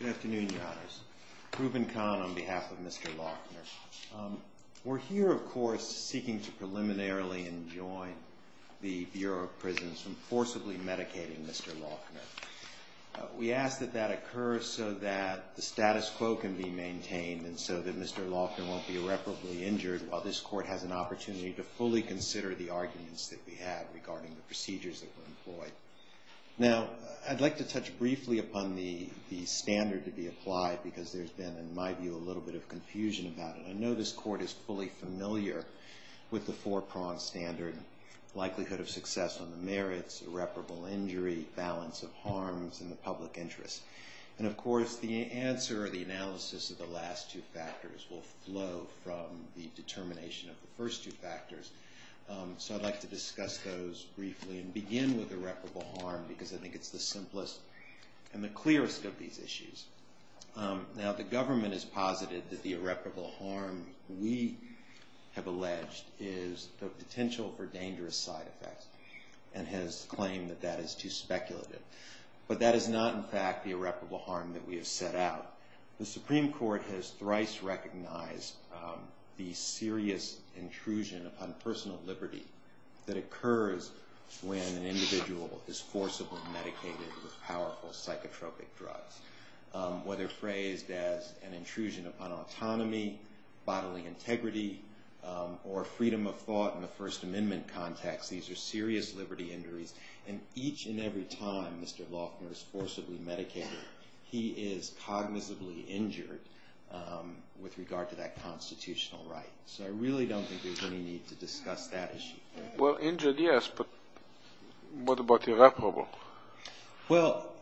Good afternoon, Your Honors. Reuben Kahn on behalf of Mr. Loughner. We're here, of course, seeking to preliminarily enjoin the Bureau of Prisons from forcibly medicating Mr. Loughner. We ask that that occur so that the status quo can be maintained and so that Mr. Loughner won't be irreparably injured while this Court has an opportunity to fully consider the arguments that we have regarding the procedures that were employed. Now, I'd like to touch briefly upon the standard to be applied because there's been, in my view, a little bit of confusion about it. I know this Court is fully familiar with the four-pronged standard likelihood of success on the merits, irreparable injury, balance of harms, and the public interest. And, of course, the answer or the analysis of the last two factors will flow from the determination of the first two factors. So I'd like to discuss those briefly and begin with irreparable harm because I think it's the simplest and the clearest of these issues. Now, the government has posited that the irreparable harm we have alleged is of potential or dangerous side effects and has claimed that that is too speculative. But that is not, in fact, the irreparable harm that we have set out. The Supreme Court has thrice recognized the serious intrusion upon personal liberty that occurs when an individual is forcibly medicated with powerful psychotropic drugs. Whether phrased as an intrusion upon autonomy, bodily integrity, or freedom of thought in the First Amendment context, these are serious liberty injuries. And each and every time Mr. Loeffner is forcibly medicated, he is cognizantly injured with regard to that constitutional right. So I really don't think there's any need to discuss that issue. Well, injured, yes, but what about irreparable? Well,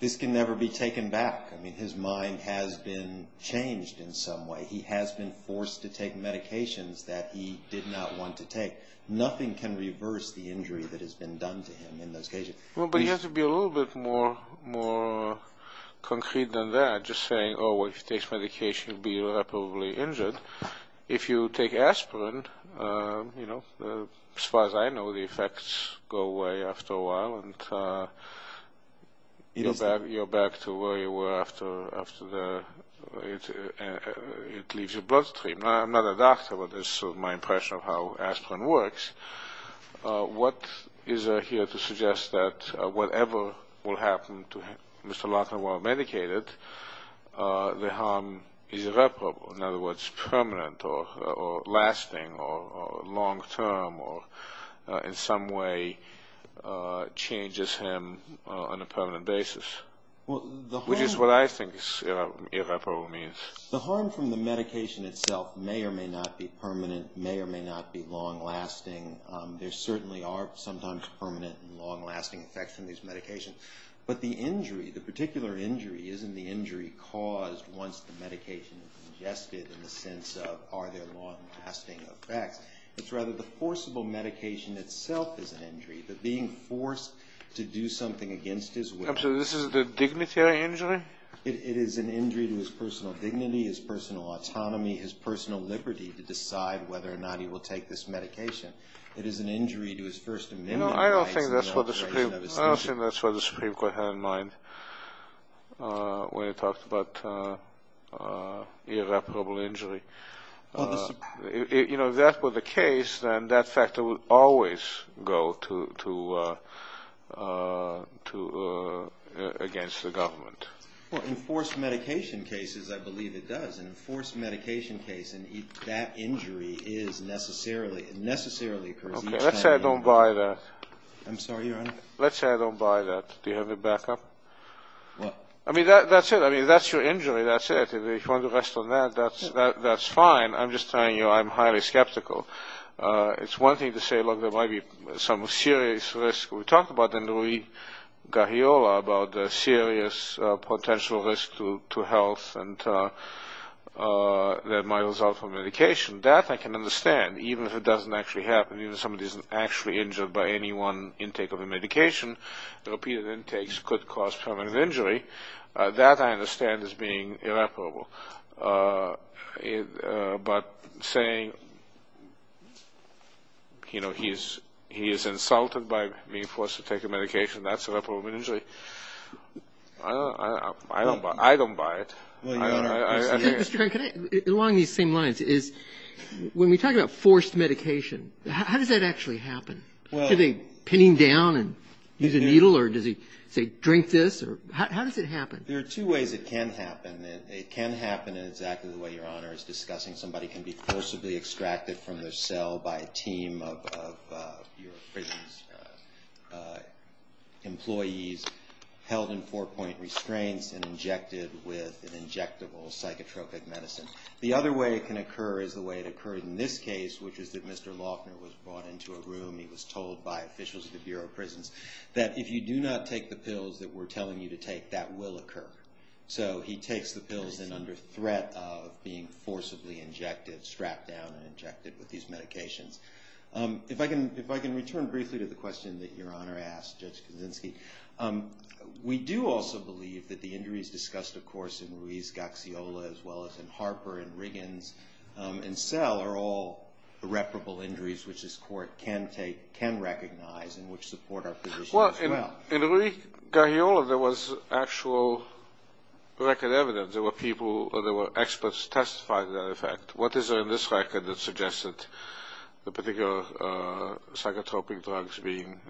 this can never be taken back. I mean, his mind has been changed in some way. He has been forced to take medications that he did not want to take. Nothing can reverse the injury that has been done to him in those cases. Well, but you have to be a little bit more concrete than that, just saying, oh, if you take medication, you'll be irreparably injured. If you take aspirin, as far as I know, the effects go away after a while, and you're back to where you were after it leaves your bloodstream. I'm not a doctor, but this is my impression of how aspirin works. What is there here to suggest that whatever will happen to Mr. Loeffner while medicated, the harm irreparable, in other words, permanent or lasting or long-term or in some way changes him on a prevalent basis? Which is what I think irreparable means. The harm from the medication itself may or may not be permanent, may or may not be long-lasting. There certainly are sometimes permanent and long-lasting effects in these medications. But the injury, the particular injury, isn't the injury caused once the medication is ingested in the sense of are they long-lasting or back. It's rather the forcible medication itself is an injury, the being forced to do something against his will. So this is the dignitary injury? It is an injury to his personal dignity, his personal autonomy, his personal liberty to decide whether or not he will take this medication. It is an injury to his first amendment right... I don't think that's what the Supreme Court had in mind when he talked about irreparable injury. If that were the case, then that factor would always go against the government. Well, in forced medication cases, I believe it does. In a forced medication case, that injury is necessarily... Okay, let's say I don't buy that. I'm sorry, Your Honor? Let's say I don't buy that. Do you have it back up? What? I mean, that's it. I mean, if that's your injury, that's it. If you want to rest on that, that's fine. I'm just telling you I'm highly skeptical. It's one thing to say, look, there might be some serious risk. We talked about that in the league about the serious potential risk to health and my result from medication. That I can understand, even if it doesn't actually happen, even if somebody isn't actually injured by any one intake of a medication. Repeated intakes could cause permanent injury. That I understand as being irreparable. But saying, you know, he is insulted by being forced to take a medication, that's irreparable injury. I don't buy it. Mr. Kern, along these same lines, when we talk about forced medication, how did that actually happen? Did he pin him down and use a needle, or did he say, drink this? How does it happen? There are two ways it can happen. It can happen exactly the way Your Honor is discussing. Somebody can be forcibly extracted from their cell by a team of your prison employees, held in four-point restraint and injected with an injectable psychotropic medicine. The other way it can occur is the way it occurred in this case, which is that Mr. Laughner was brought into a room. He was told by officials at the Bureau of Prisons that if you do not take the pills that we're telling you to take, that will occur. So he takes the pills and under threat of being forcibly injected, strapped down and injected with these medications. If I can return briefly to the question that Your Honor asked, Justice Kaczynski, we do also believe that the injuries discussed, of course, in Ruiz, Gaxiola, as well as in Harper and Riggins and Sell, are all irreparable injuries which this Court can recognize and which support our position as well. Well, in Ruiz, Gaxiola, there was actual record evidence. There were people or there were experts testifying to that effect. What is there in this record that suggests that the particular psychotropic drugs being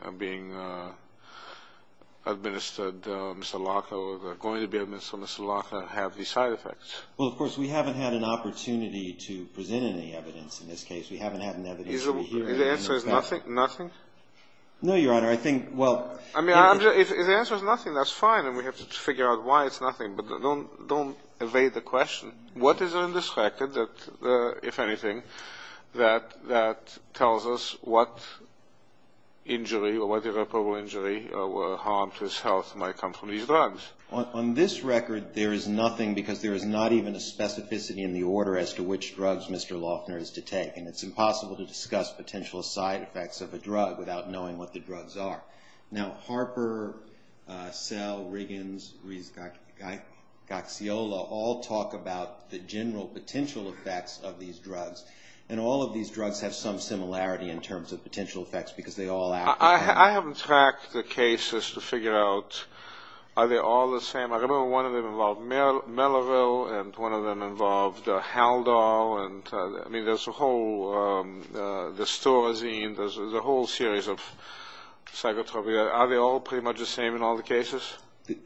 administered, Mr. Laughner, or going to be administered by Mr. Laughner, have these side effects? Well, of course, we haven't had an opportunity to present any evidence in this case. We haven't had any evidence. The answer is nothing? Nothing? No, Your Honor. I mean, if the answer is nothing, that's fine, and we have to figure out why it's nothing. But don't evade the question. What is it in this record that, if anything, that tells us what injury or what irreparable injury or harm to his health might come from these drugs? On this record, there is nothing because there is not even a specificity in the order as to which drugs Mr. Laughner is to take, and it's impossible to discuss potential side effects of a drug without knowing what the drugs are. Now, Harper, Sell, Riggins, Gaziola all talk about the general potential effects of these drugs, and all of these drugs have some similarity in terms of potential effects because they all act the same way. I haven't tracked the cases to figure out are they all the same. I remember one of them involved Melville, and one of them involved Haldol. I mean, there's a whole series of psychotropic drugs. Are they all pretty much the same in all the cases?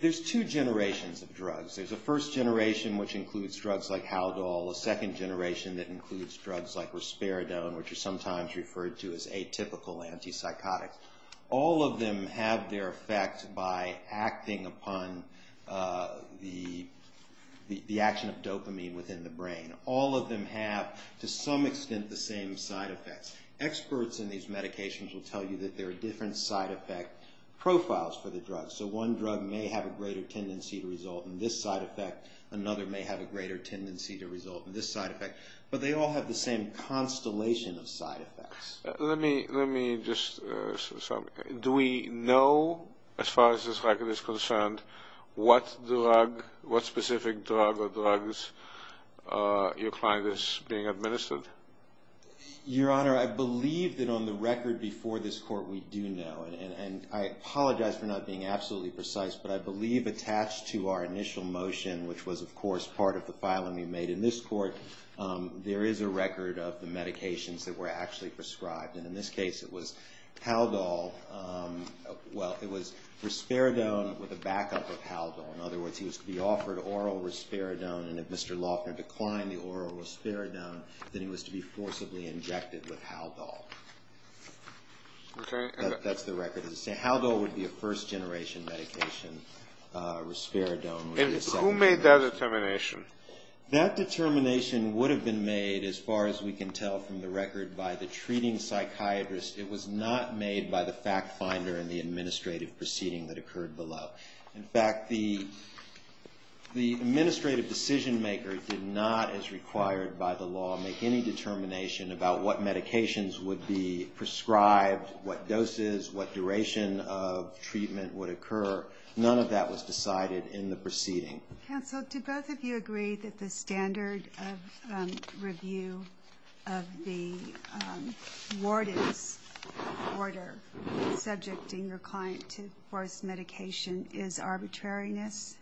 There's two generations of drugs. There's a first generation which includes drugs like Haldol, a second generation that includes drugs like Risperidone, which is sometimes referred to as atypical antipsychotic. All of them have their effect by acting upon the action of dopamine within the brain. All of them have, to some extent, the same side effects. Experts in these medications will tell you that there are different side effect profiles for the drugs. So one drug may have a greater tendency to result in this side effect. Another may have a greater tendency to result in this side effect. But they all have the same constellation of side effects. Let me just say something. Do we know, as far as this record is concerned, what specific drug or drugs you find is being administered? Your Honor, I believe that on the record before this court we do know, and I apologize for not being absolutely precise, but I believe attached to our initial motion, which was, of course, part of the filing we made in this court, there is a record of the medications that were actually prescribed. In this case, it was Risperidone with a backup of Haldol. In other words, it was to be offered oral Risperidone, and if Mr. Loffner declined the oral Risperidone, then it was to be forcibly injected with Haldol. That's the record. Haldol would be a first generation medication. Risperidone would be a second generation. Who made that determination? That determination would have been made, as far as we can tell from the record, by the treating psychiatrist. It was not made by the fact finder and the administrative proceeding that occurred below. In fact, the administrative decision maker did not, as required by the law, make any determination about what medications would be prescribed, what doses, what duration of treatment would occur. None of that was decided in the proceeding. Counsel, do both of you agree that the standard of review of the warden's order, subjecting your client to forced medication, is arbitrariness?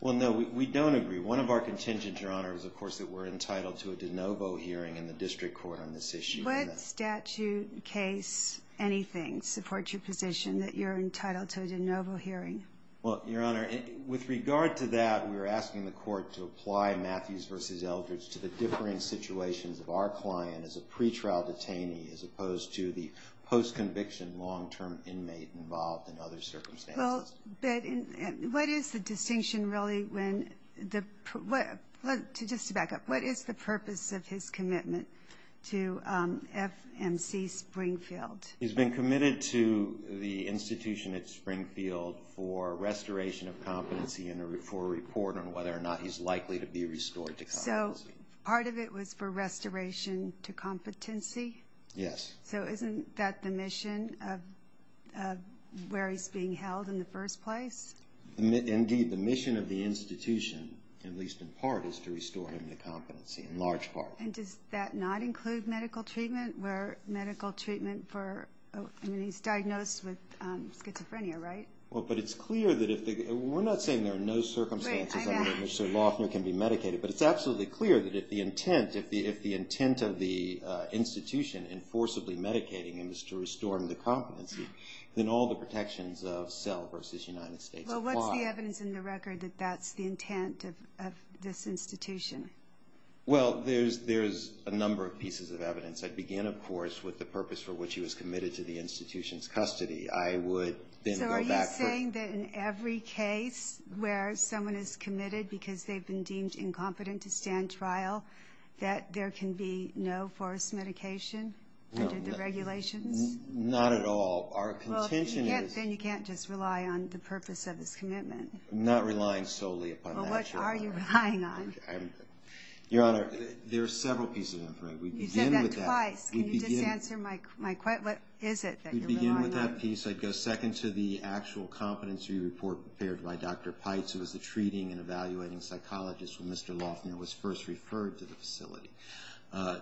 Well, no, we don't agree. One of our contingents, Your Honor, is, of course, that we're entitled to a de novo hearing in the district court on this issue. What statute, case, anything supports your position that you're entitled to a de novo hearing? Well, Your Honor, with regard to that, we are asking the court to apply Matthews v. Eldridge to the differing situations of our client as a pretrial detainee as opposed to the post-conviction long-term inmate involved in other circumstances. Well, but what is the distinction, really, when the – just to back up, what is the purpose of his commitment to FMC Springfield? He's been committed to the institution at Springfield for restoration of competency and for a report on whether or not he's likely to be restored to competency. So part of it was for restoration to competency? Yes. So isn't that the mission of where he's being held in the first place? Indeed, the mission of the institution, at least in part, is to restore him to competency, in large part. And does that not include medical treatment where medical treatment for – I mean, he's diagnosed with schizophrenia, right? Well, but it's clear that if – we're not saying there are no circumstances in which Sir Loftner can be medicated, but it's absolutely clear that if the intent of the institution in forcibly medicating him is to restore him to competency, then all the protections of cell versus United States apply. Well, what's the evidence in the record that that's the intent of this institution? Well, there's a number of pieces of evidence. It began, of course, with the purpose for which he was committed to the institution's custody. I would then go back for – So are you saying that in every case where someone is committed because they've been deemed incompetent to stand trial, that there can be no forced medication under the regulations? No, not at all. Our contention is – Well, then you can't just rely on the purpose of his commitment. I'm not relying solely upon that. Well, what are you relying on? Your Honor, there are several pieces in the record. We begin with that. You said that twice, and you didn't answer my question. What is it that you're relying on? We begin with that piece. I'd go second to the actual competency report prepared by Dr. Pites, who was the treating and evaluating psychologist when Mr. Loftner was first referred to the facility.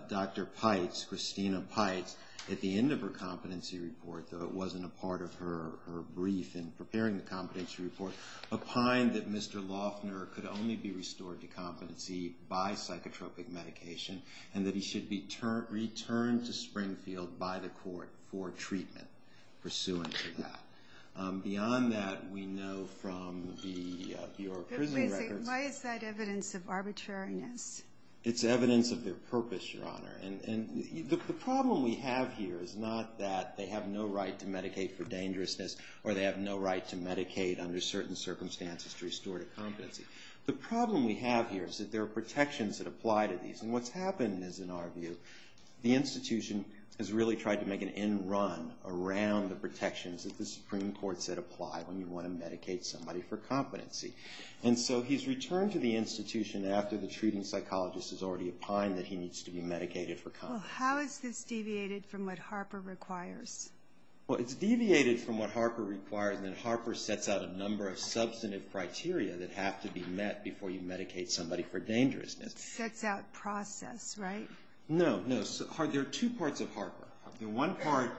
Dr. Pites, Christina Pites, at the end of her competency report, though it wasn't a part of her brief in preparing the competency report, opined that Mr. Loftner could only be restored to competency by psychotropic medication and that he should be returned to Springfield by the court for treatment pursuant to that. Beyond that, we know from your prison record – Why is that evidence of arbitrariness? It's evidence of their purpose, Your Honor. And the problem we have here is not that they have no right to medicate for dangerousness or they have no right to medicate under certain circumstances to restore to competency. The problem we have here is that there are protections that apply to these. And what's happened is, in our view, the institution has really tried to make an end run around the protections that the Supreme Court said apply when you want to medicate somebody for competency. And so he's returned to the institution after the treating psychologist has already opined that he needs to be medicated for competency. Well, how is this deviated from what Harper requires? Well, it's deviated from what Harper requires in that Harper sets out a number of substantive criteria that have to be met before you medicate somebody for dangerousness. Sets out process, right? No, no. There are two parts of Harper. One part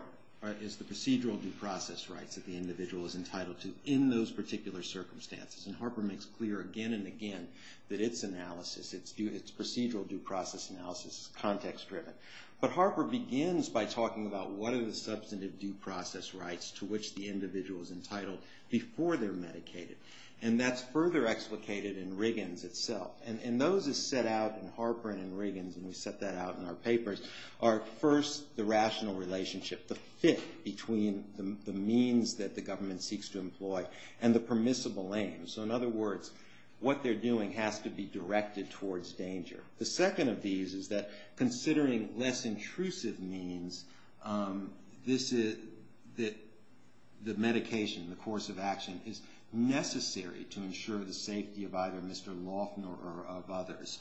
is the procedural due process rights that the individual is entitled to in those particular circumstances. And Harper makes clear again and again that its analysis, its procedural due process analysis, is context-driven. But Harper begins by talking about what are the substantive due process rights to which the individual is entitled before they're medicated. And that's further explicated in Riggins itself. And those are set out in Harper and in Riggins, and we set that out in our papers, are first the rational relationship, the fit between the means that the government seeks to employ and the permissible aims. So in other words, what they're doing has to be directed towards danger. The second of these is that considering less intrusive means, this is that the medication, the course of action is necessary to ensure the safety of either Mr. Laughner or of others.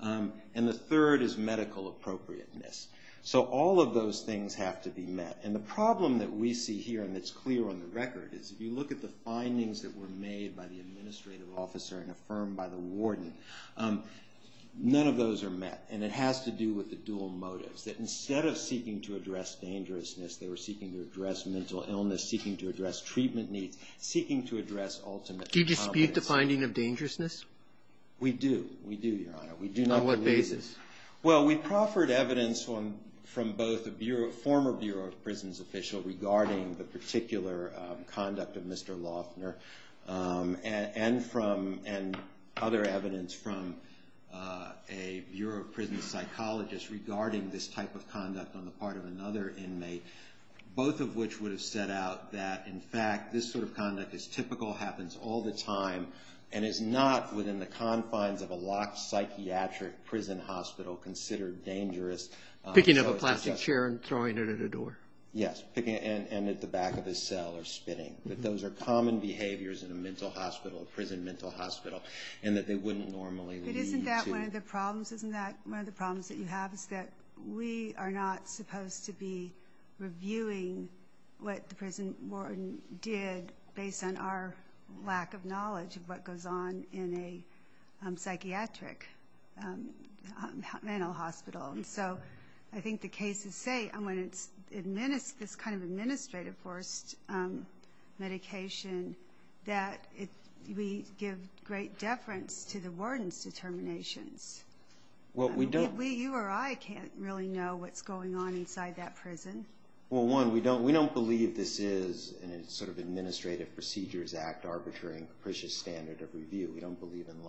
And the third is medical appropriateness. So all of those things have to be met. And the problem that we see here, and it's clear on the record, is if you look at the findings that were made by the administrative officer and affirmed by the warden, none of those are met. And it has to do with the dual motives, that instead of seeking to address dangerousness, they were seeking to address mental illness, seeking to address treatment needs, seeking to address ultimate confidence. Do you dispute the finding of dangerousness? We do. We do, Your Honor. On what basis? Well, we proffered evidence from both the former Bureau of Prisons official regarding the particular conduct of Mr. Laughner and other evidence from a Bureau of Prisons psychologist regarding this type of conduct on the part of another inmate, both of which would have set out that, in fact, this sort of conduct is typical, happens all the time, and is not within the confines of a locked psychiatric prison hospital considered dangerous. Picking up a plastic chair and throwing it at a door? Yes, and at the back of the cell or spitting. But those are common behaviors in a mental hospital, a prison mental hospital, and that they wouldn't normally lead you to. But isn't that one of the problems? Isn't that one of the problems that you have is that we are not supposed to be reviewing what the prison warden did based on our lack of knowledge of what goes on in a psychiatric mental hospital. And so I think the case would say, when it's this kind of administrative forced medication, that we give great deference to the warden's determination. But we, you or I, can't really know what's going on inside that prison. Well, one, we don't believe this is a sort of Administrative Procedures Act arbitration standard of review. We don't believe in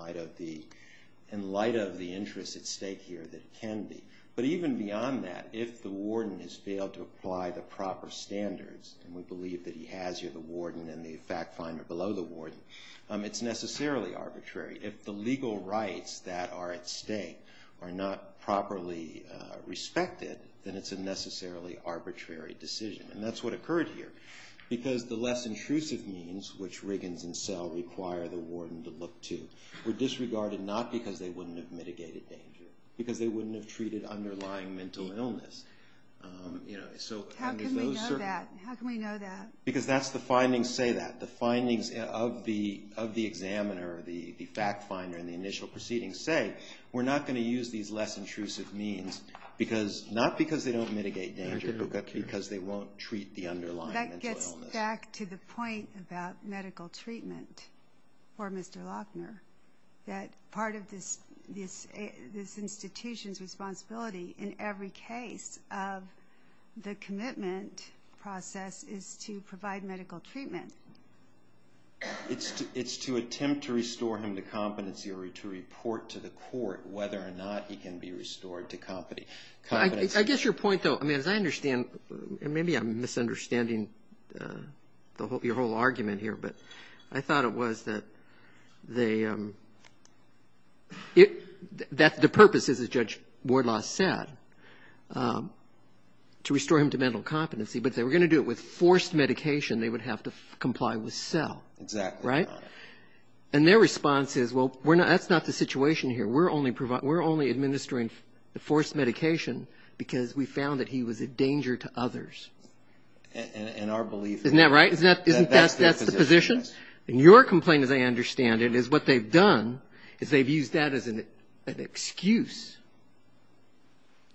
light of the interest at stake here that it can be. But even beyond that, if the warden has failed to apply the proper standards, and we believe that he has, you're the warden and the fact finder below the warden, it's necessarily arbitrary. If the legal rights that are at stake are not properly respected, then it's a necessarily arbitrary decision. And that's what occurred here. Because the less intrusive means, which Riggins and Sell require the warden to look to, were disregarded not because they wouldn't have mitigated danger, because they wouldn't have treated underlying mental illness. How can we know that? Because that's the findings say that. The findings of the examiner, the fact finder, and the initial proceedings say, we're not going to use these less intrusive means, not because they don't mitigate danger, but because they won't treat the underlying mental illness. That gets back to the point about medical treatment for Mr. Lochner, that part of this institution's responsibility in every case of the commitment process is to provide medical treatment. It's to attempt to restore him to competency or to report to the court whether or not he can be restored to competency. I guess your point, though, as I understand, and maybe I'm misunderstanding your whole argument here, but I thought it was that the purpose is, as Judge Wardlaw said, to restore him to mental competency, but if they were going to do it with forced medication, they would have to comply with CEL, right? And their response is, well, that's not the situation here. We're only administering forced medication because we found that he was a danger to others. Isn't that right? Isn't that the position? And your complaint, as I understand it, is what they've done is they've used that as an excuse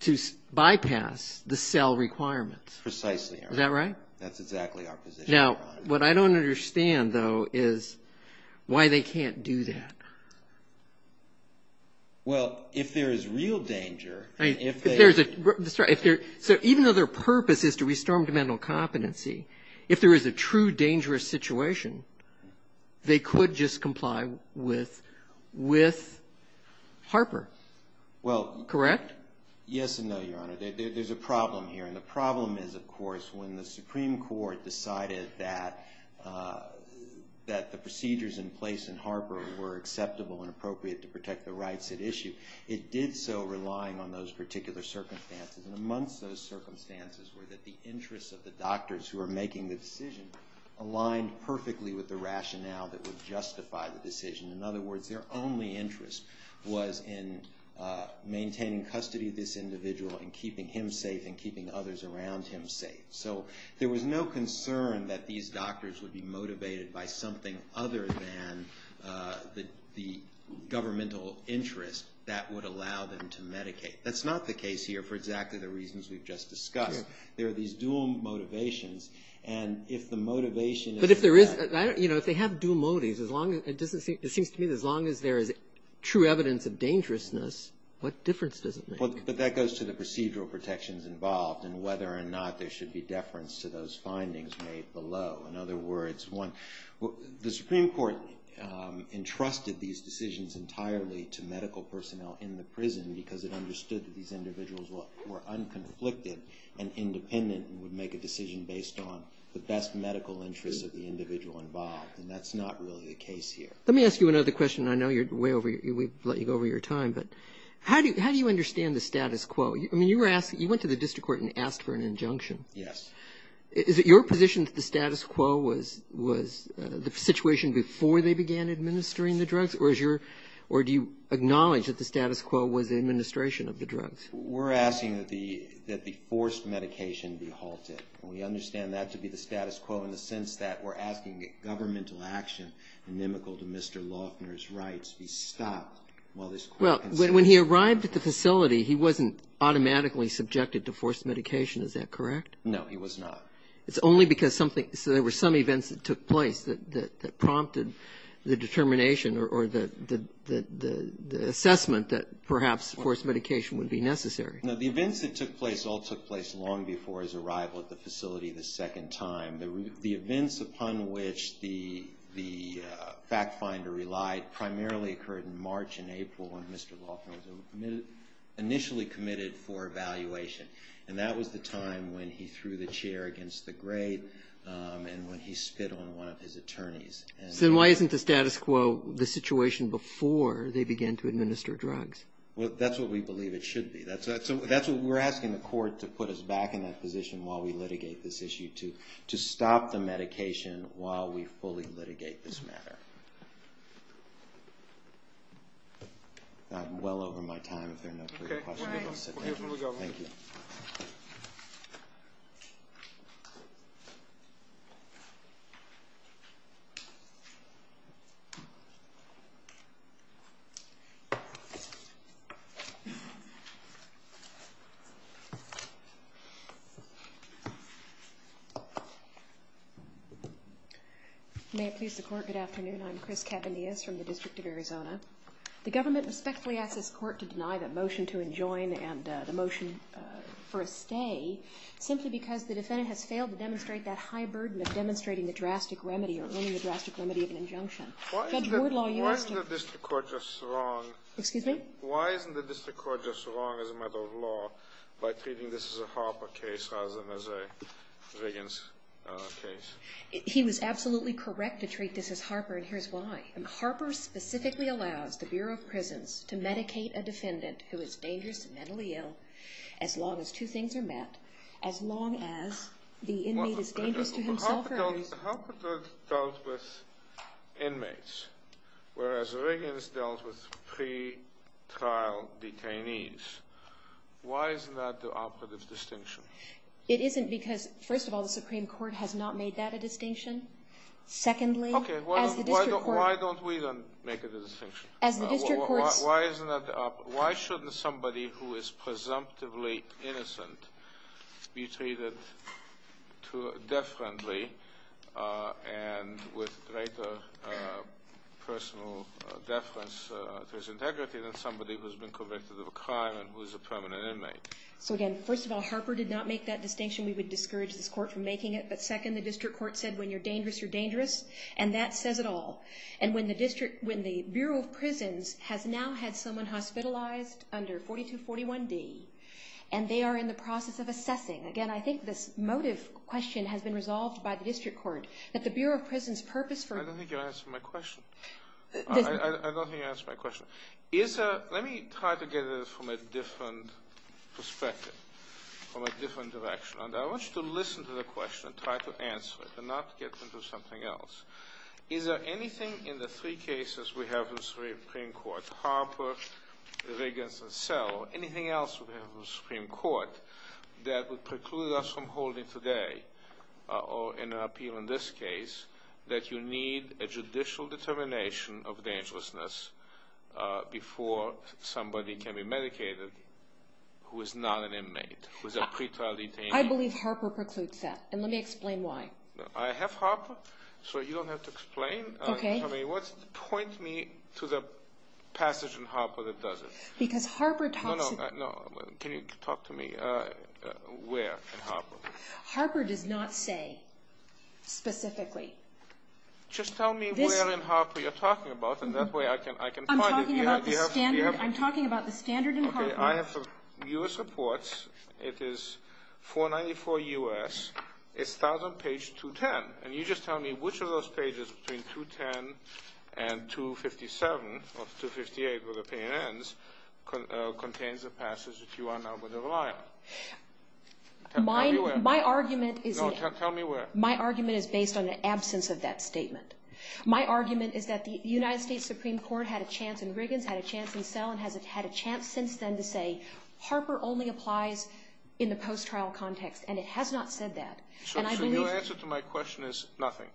to bypass the CEL requirements. Precisely. Is that right? That's exactly our position. Now, what I don't understand, though, is why they can't do that. Well, if there is real danger. That's right. So even though their purpose is to restore him to mental competency, if there is a true dangerous situation, Yes and no, Your Honor. There's a problem here, and the problem is, of course, when the Supreme Court decided that the procedures in place in Harper were acceptable and appropriate to protect the rights at issue, it did so relying on those particular circumstances, and amongst those circumstances were that the interests of the doctors who were making the decision aligned perfectly with the rationale that would justify the decision. In other words, their only interest was in maintaining custody of this individual and keeping him safe and keeping others around him safe. So there was no concern that these doctors would be motivated by something other than the governmental interest that would allow them to medicate. That's not the case here for exactly the reasons we've just discussed. There are these dual motivations, and if the motivation is that If they have dual motives, it seems to me that as long as there is true evidence of dangerousness, what difference does it make? But that goes to the procedural protections involved and whether or not there should be deference to those findings made below. In other words, the Supreme Court entrusted these decisions entirely to medical personnel in the prison because it understood that these individuals were unconflicted and independent and would make a decision based on the best medical interest of the individual involved, and that's not really the case here. Let me ask you another question. I know we've let you go over your time, but how do you understand the status quo? I mean, you went to the district court and asked for an injunction. Yes. Is it your position that the status quo was the situation before they began administering the drugs, or do you acknowledge that the status quo was the administration of the drugs? We're asking that the forced medication be halted. We understand that to be the status quo in the sense that we're asking that governmental action, inimical to Mr. Loeffner's rights, be stopped while this court continues. Well, when he arrived at the facility, he wasn't automatically subjected to forced medication. Is that correct? No, he was not. It's only because there were some events that took place that prompted the determination or the assessment that perhaps forced medication would be necessary. The events that took place all took place long before his arrival at the facility the second time. The events upon which the fact finder relied primarily occurred in March and April when Mr. Loeffner was initially committed for evaluation, and that was the time when he threw the chair against the grave and when he spit on one of his attorneys. Then why isn't the status quo the situation before they began to administer drugs? Well, that's what we believe it should be. We're asking the court to put us back in that position while we litigate this issue, to stop the medication while we fully litigate this matter. I'm well over my time, if there are no further questions. Okay. May it please the court, good afternoon. I'm Chris Cavanius from the District of Arizona. The government respectfully asks the court to deny the motion to enjoin and the motion for a stay simply because the defendant has failed to demonstrate that high burden of demonstrating the drastic remedy or earning the drastic remedy of an injunction. Judge Bordlaw, you are to- Why isn't the district court just wrong- Excuse me? Why isn't the district court just wrong as a matter of law by treating this as a Harper case rather than as a Riggins case? He was absolutely correct to treat this as Harper, and here's why. Harper specifically allows the Bureau of Prisons to medicate a defendant who is dangerous and mentally ill as long as two things are met, as long as the inmate is dangerous to himself or others- Harper deals with inmates, whereas Riggins deals with pre-trial detainees. Why isn't that the operative distinction? It isn't because, first of all, the Supreme Court has not made that a distinction. Secondly, as the district court- Okay, why don't we then make it a distinction? As the district court- Why shouldn't somebody who is presumptively innocent be treated death-friendly and with greater personal deference to his integrity than somebody who has been convicted of a crime and who is a permanent inmate? So, again, first of all, Harper did not make that distinction. We would discourage this court from making it. But, second, the district court said when you're dangerous, you're dangerous, and that says it all. And when the Bureau of Prisons has now had someone hospitalized under 4241D, and they are in the process of assessing- Again, I think this motive question has been resolved by the district court that the Bureau of Prisons' purpose for- I don't think you answered my question. I don't think you answered my question. Let me try to get at this from a different perspective, from a different direction. And I want you to listen to the question and try to answer it and not get into something else. Is there anything in the three cases we have in the Supreme Court- Harper, Riggins, and Settle- anything else we have in the Supreme Court that would preclude us from holding today, or in an appeal in this case, that you need a judicial determination of dangerousness before somebody can be medicated who is not an inmate, who is a pretrial detainee? I believe Harper precludes that, and let me explain why. I have Harper, so you don't have to explain. Okay. Point me to the passage in Harper that does it. Because Harper- No, no, can you talk to me where in Harper? Harper did not say specifically. Just tell me where in Harper you're talking about, and that way I can find it. I'm talking about the standard in Harper. Okay, I have some U.S. reports. It is 494 U.S. It starts on page 210. And you just tell me which of those pages between 210 and 257- or 258, where the payment ends- contains the passage that you are now going to rely on. Tell me where. My argument is- No, tell me where. My argument is based on the absence of that statement. My argument is that the United States Supreme Court had a chance in Riggins, had a chance in Snell, and has had a chance since then to say, Harper only applies in the post-trial context. And it has not said that. And I believe- Your answer to my question is nothing.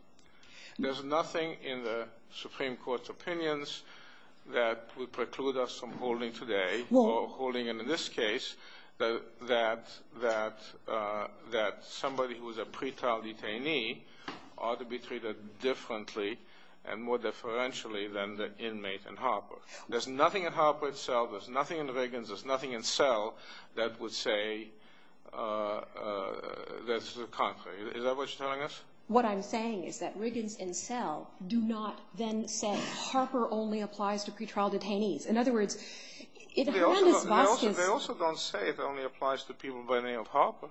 There's nothing in the Supreme Court's opinions that would preclude us from holding today- Well- Or holding in this case that somebody who is a pretrial detainee ought to be treated differently and more deferentially than the inmate in Harper. There's nothing in Harper itself. There's nothing in the Riggins. There's nothing in Snell that would say that this is a conflict. Is that what you're telling us? What I'm saying is that Riggins and Snell do not then say, Harper only applies to pretrial detainees. In other words- They also don't say it only applies to people by the name of Harper.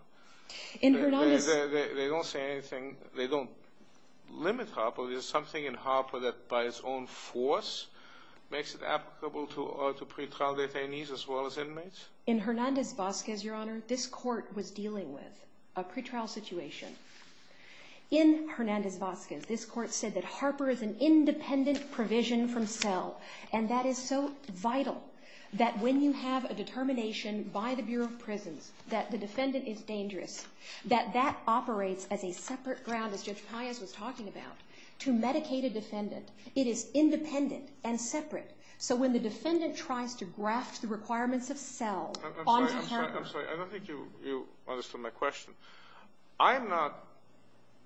They don't say anything. They don't limit Harper. So there's something in Harper that, by its own force, makes it applicable to pretrial detainees as well as inmates? In Hernandez-Bosquez, Your Honor, this court was dealing with a pretrial situation. In Hernandez-Bosquez, this court said that Harper is an independent provision from Snell. And that is so vital that when you have a determination by the Bureau of Prisons that the defendant is dangerous, that that operates as a separate ground, as Judge Pires was talking about, to medicate a defendant. It is independent and separate. So when the defendant tries to grasp the requirements of Snell- I'm sorry. I don't think you understood my question. I'm not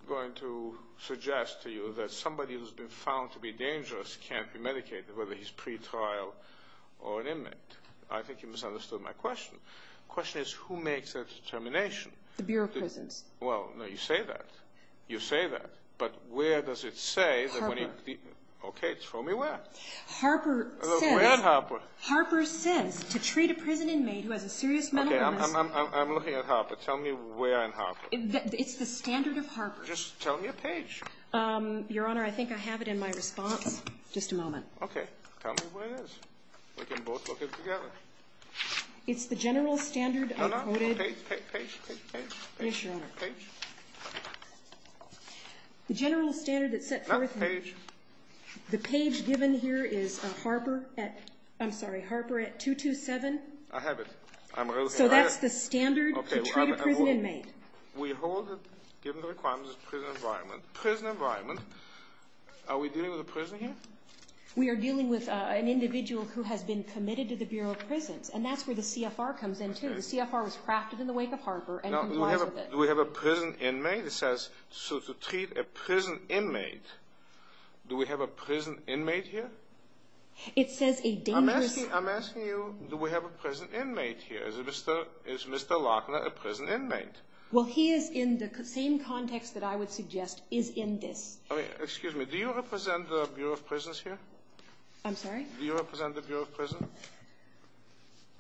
going to suggest to you that somebody who's been found to be dangerous can't be medicated, whether he's pretrial or an inmate. I think you misunderstood my question. The question is, who makes that determination? The Bureau of Prisons. Well, no, you say that. You say that. But where does it say- Harper. Okay, tell me where. Harper says- Where in Harper? Harper says to treat a prison inmate who has a serious mental illness- Okay, I'm looking at Harper. Tell me where in Harper. It's the standard of Harper. Just tell me a page. Your Honor, I think I have it in my response. Just a moment. Okay. Tell me where it is. We can both look at it together. It's the general standard- No, no. Page, page, page, page. Yes, Your Honor. Page. The general standard that sets forth- Not the page. The page given here is Harper at 227. I have it. So that's the standard to treat a prison inmate. We hold it given the requirements of the prison environment. Prison environment. Are we dealing with a prison? Yes. We are dealing with an individual who has been committed to the Bureau of Prisons, and that's where the CFR comes in, too. The CFR was crafted in the wake of Harper. Do we have a prison inmate? It says to treat a prison inmate. Do we have a prison inmate here? It says a dangerous- I'm asking you, do we have a prison inmate here? Is Mr. Lochner a prison inmate? Well, he is in the same context that I would suggest is in this. Excuse me. Do you represent the Bureau of Prisons here? I'm sorry? Do you represent the Bureau of Prisons?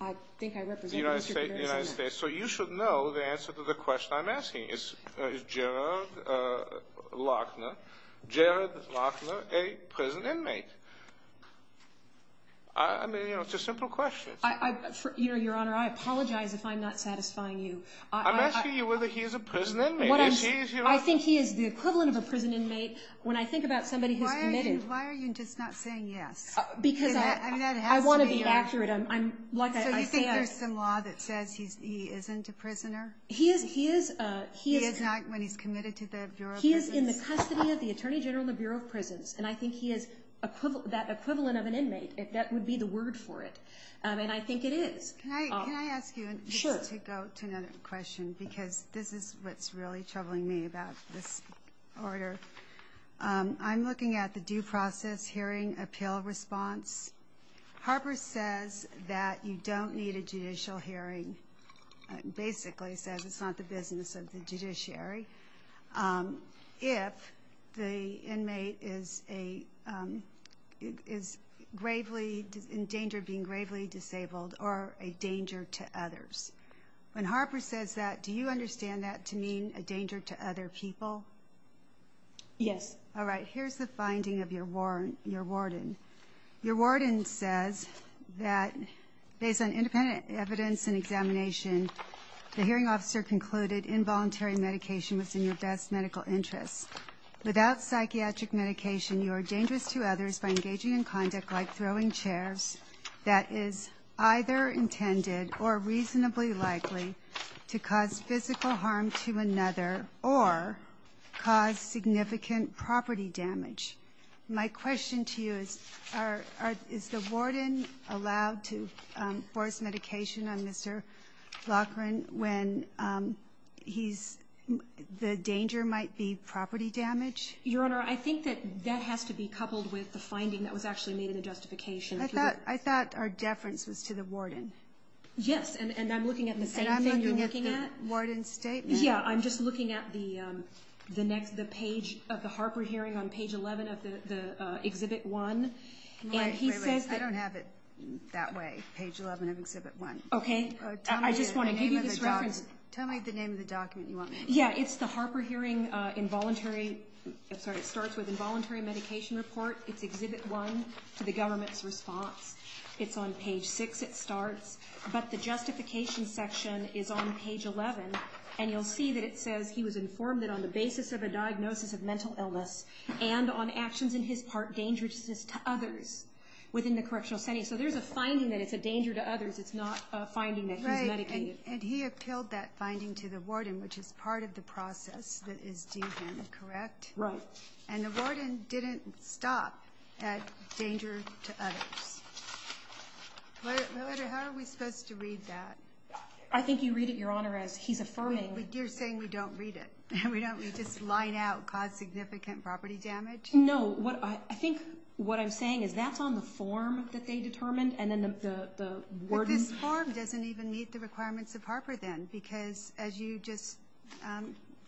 I think I represent- The United States. So you should know the answer to the question I'm asking. Is Jared Lochner a prison inmate? I mean, you know, it's a simple question. Your Honor, I apologize if I'm not satisfying you. I'm asking you whether he is a prison inmate. I think he is the equivalent of a prison inmate. When I think about somebody who's committed- Why are you just not saying yes? Because I want to be accurate. I think there's some law that says he isn't a prisoner. He is not when he's committed to the Bureau of Prisons. He is in the custody of the Attorney General and the Bureau of Prisons. And I think he is that equivalent of an inmate. That would be the word for it. And I think it is. Can I ask you- Sure. I would like to go to another question because this is what's really troubling me about this order. I'm looking at the due process hearing appeal response. Harper says that you don't need a judicial hearing. It basically says it's not the business of the judiciary. if the inmate is gravely in danger of being gravely disabled or a danger to others. When Harper says that, do you understand that to mean a danger to other people? Yes. All right. Here's the finding of your warden. Your warden says that based on independent evidence and examination, the hearing officer concluded involuntary medication was in your best medical interest. Without psychiatric medication, you are dangerous to others by engaging in conduct like throwing chairs that is either intended or reasonably likely to cause physical harm to another or cause significant property damage. My question to you is, is the warden allowed to force medication on Mr. Loughran when the danger might be property damage? Your Honor, I think that that has to be coupled with the finding that was actually made in the justification. I thought our deference was to the warden. Yes. And I'm looking at the statement you're looking at. Warden's statement. Yeah, I'm just looking at the page of the Harper hearing on page 11 of the Exhibit 1. Wait a minute. I don't have it that way, page 11 of Exhibit 1. Okay. Tell me the name of the document you want me to look at. Yeah, it's the Harper hearing involuntary. Sorry, it starts with involuntary medication report. It's Exhibit 1, the government's response. It's on page 6, it starts. But the justification section is on page 11, and you'll see that it says he was informed that on the basis of a diagnosis of mental illness and on actions in his part dangerous to others within the correctional setting. So there's a finding that it's a danger to others. It's not a finding that he's medicated. And he appealed that finding to the warden, which is part of the process that is dangerous, correct? Right. And the warden didn't stop at dangerous to others. How are we supposed to read that? I think you read it, Your Honor, as he's affirming. But you're saying we don't read it. We don't just line out cause significant property damage? No. I think what I'm saying is that's on the form that they determined and then the warden's form. The form doesn't even meet the requirements of Harper then because, as you just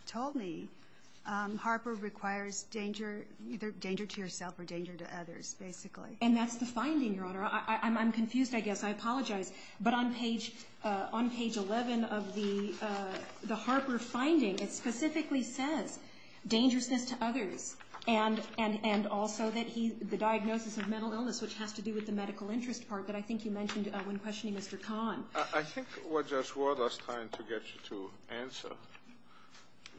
told me, Harper requires either danger to yourself or danger to others, basically. And that's the finding, Your Honor. I'm confused, I guess. I apologize. But on page 11 of the Harper finding, it specifically says danger to others and also the diagnosis of mental illness, which has to do with the medical interest part that I think you mentioned when questioning Mr. Kahn. I think what Judge Ward was trying to get you to answer,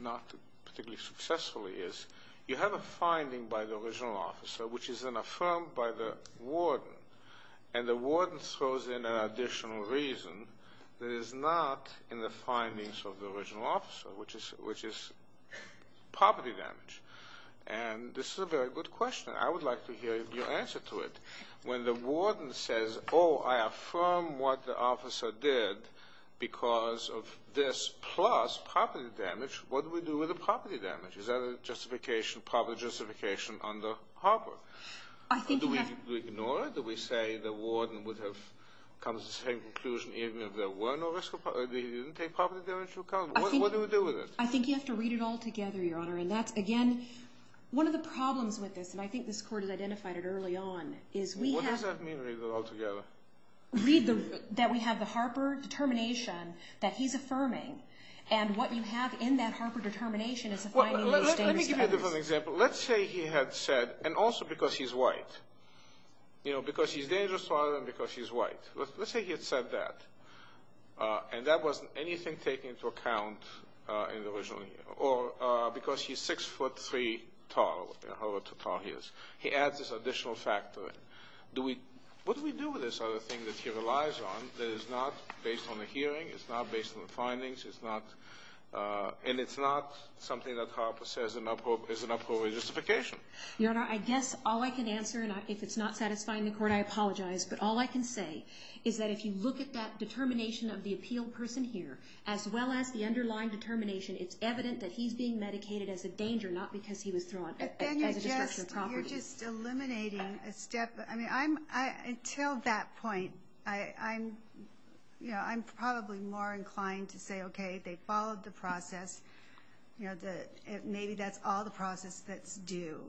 not particularly successfully, is you have a finding by the original officer which is then affirmed by the warden and the warden throws in an additional reason that is not in the findings of the original officer, which is property damage. And this is a very good question. I would like to hear your answer to it. When the warden says, oh, I affirm what the officer did because of this plus property damage, what do we do with the property damage? Is that a justification, property justification under Harper? Do we ignore it? Do we say the warden would have come to the same conclusion even if there were no risk of property damage? He didn't take property damage into account. What do we do with it? I think you have to read it all together, Your Honor. And, again, one of the problems with this, and I think this Court has identified it early on, is we have to What does that mean, read it all together? Read that we have the Harper determination that he's affirming. And what you have in that Harper determination is a finding that he's dangerous. Let me give you a different example. Let's say he had said, and also because he's white, you know, because he's dangerous rather than because he's white. Let's say he had said that, and that wasn't anything taken into account in the original hearing, or because he's six foot three tall, however tall he is. He adds this additional factor. What do we do with this other thing that he relies on that is not based on the hearing, it's not based on the findings, and it's not something that Harper says is an appropriate justification? Your Honor, I guess all I can answer, and I think it's not satisfying the Court, I apologize, but all I can say is that if you look at that determination of the appealed person here, as well as the underlying determination, it's evident that he's being medicated as a danger, not because he was thrown at the discretion of property. You're just eliminating a step. I mean, until that point, I'm probably more inclined to say, okay, they followed the process. Maybe that's all the process that's due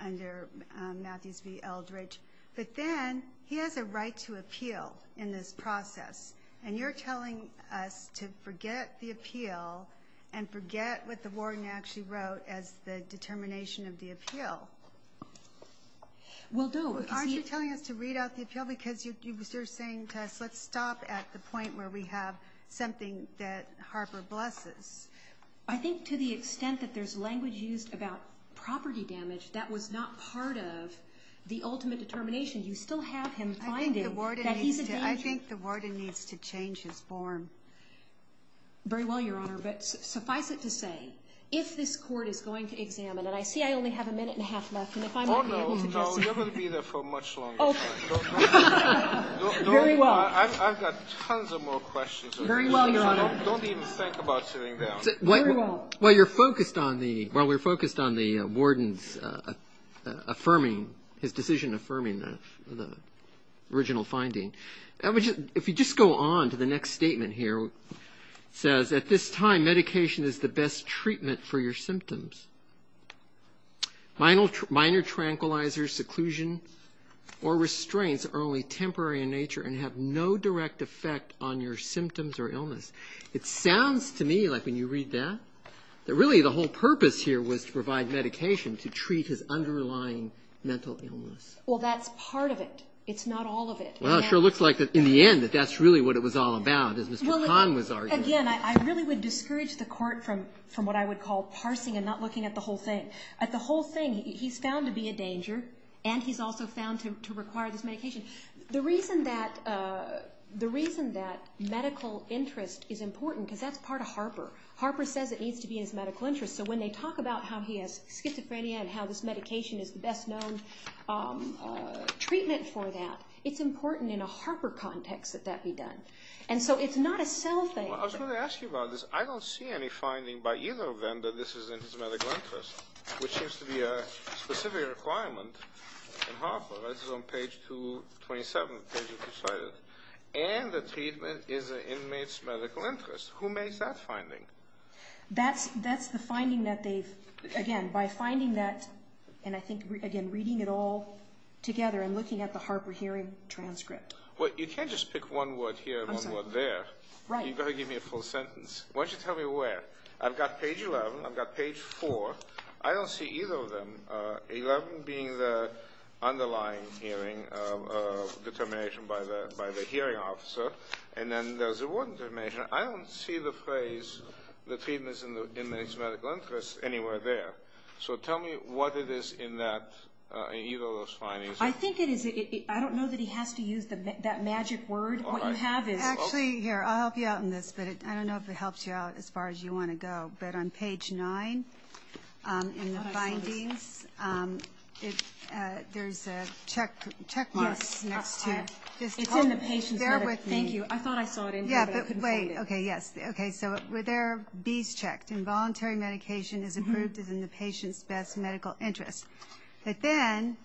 under Matthew C. Eldridge. But then he has a right to appeal in this process, and you're telling us to forget the appeal and forget what the warden actually wrote as the determination of the appeal. Aren't you telling us to read out the appeal because you're saying to us, let's stop at the point where we have something that Harper blesses? I think to the extent that there's language used about property damage that was not part of the ultimate determination, you still have him finding that he's a danger. I think the warden needs to change his form. Very well, Your Honor, but suffice it to say, if this court is going to examine it, I see I only have a minute and a half left. Oh, no, no, you're going to be there for much longer. I've got tons of more questions. Very well, Your Honor. Don't even think about sitting down. While we're focused on the warden's decision affirming the original finding, if you just go on to the next statement here, it says, at this time medication is the best treatment for your symptoms. Minor tranquilizers, seclusion, or restraints are only temporary in nature and have no direct effect on your symptoms or illness. It sounds to me, like when you read that, that really the whole purpose here was to provide medication to treat his underlying mental illness. Well, that's part of it. It's not all of it. Well, it sure looks like in the end that that's really what it was all about. Again, I really would discourage the court from what I would call parsing and not looking at the whole thing. At the whole thing, he's found to be a danger, and he's also found to require this medication. The reason that medical interest is important, because that's part of Harper. Harper says it needs to be in his medical interest. So when they talk about how he has schizophrenia and how this medication is the best known treatment for that, it's important in a Harper context that that be done. And so it's not a cell thing. I was going to ask you about this. I don't see any finding by either of them that this is in his medical interest, which seems to be a specific requirement in Harper. This is on Page 27, Page of Decisions. And the treatment is in the inmate's medical interest. Who makes that finding? That's the finding that they've, again, by finding that, and I think, again, reading it all together and looking at the Harper hearing transcript. Well, you can't just pick one word here and one word there. You've got to give me a full sentence. Why don't you tell me where? I've got Page 11. I've got Page 4. I don't see either of them. 11 being the underlying hearing determination by the hearing officer, and then there's a word determination. I don't see the phrase the treatment is in the inmate's medical interest anywhere there. So tell me what it is in either of those findings. I don't know that he has to use that magic word, but you have it. Actually, here, I'll help you out on this, but I don't know if it helps you out as far as you want to go. But on Page 9 in the findings, there's a checkmark next to it. It's in the patient's medical interest. Thank you. I thought I saw it in here, but I couldn't find it. Okay, yes. Okay, so there are these checks. Involuntary medication is approved as in the patient's best medical interest. But then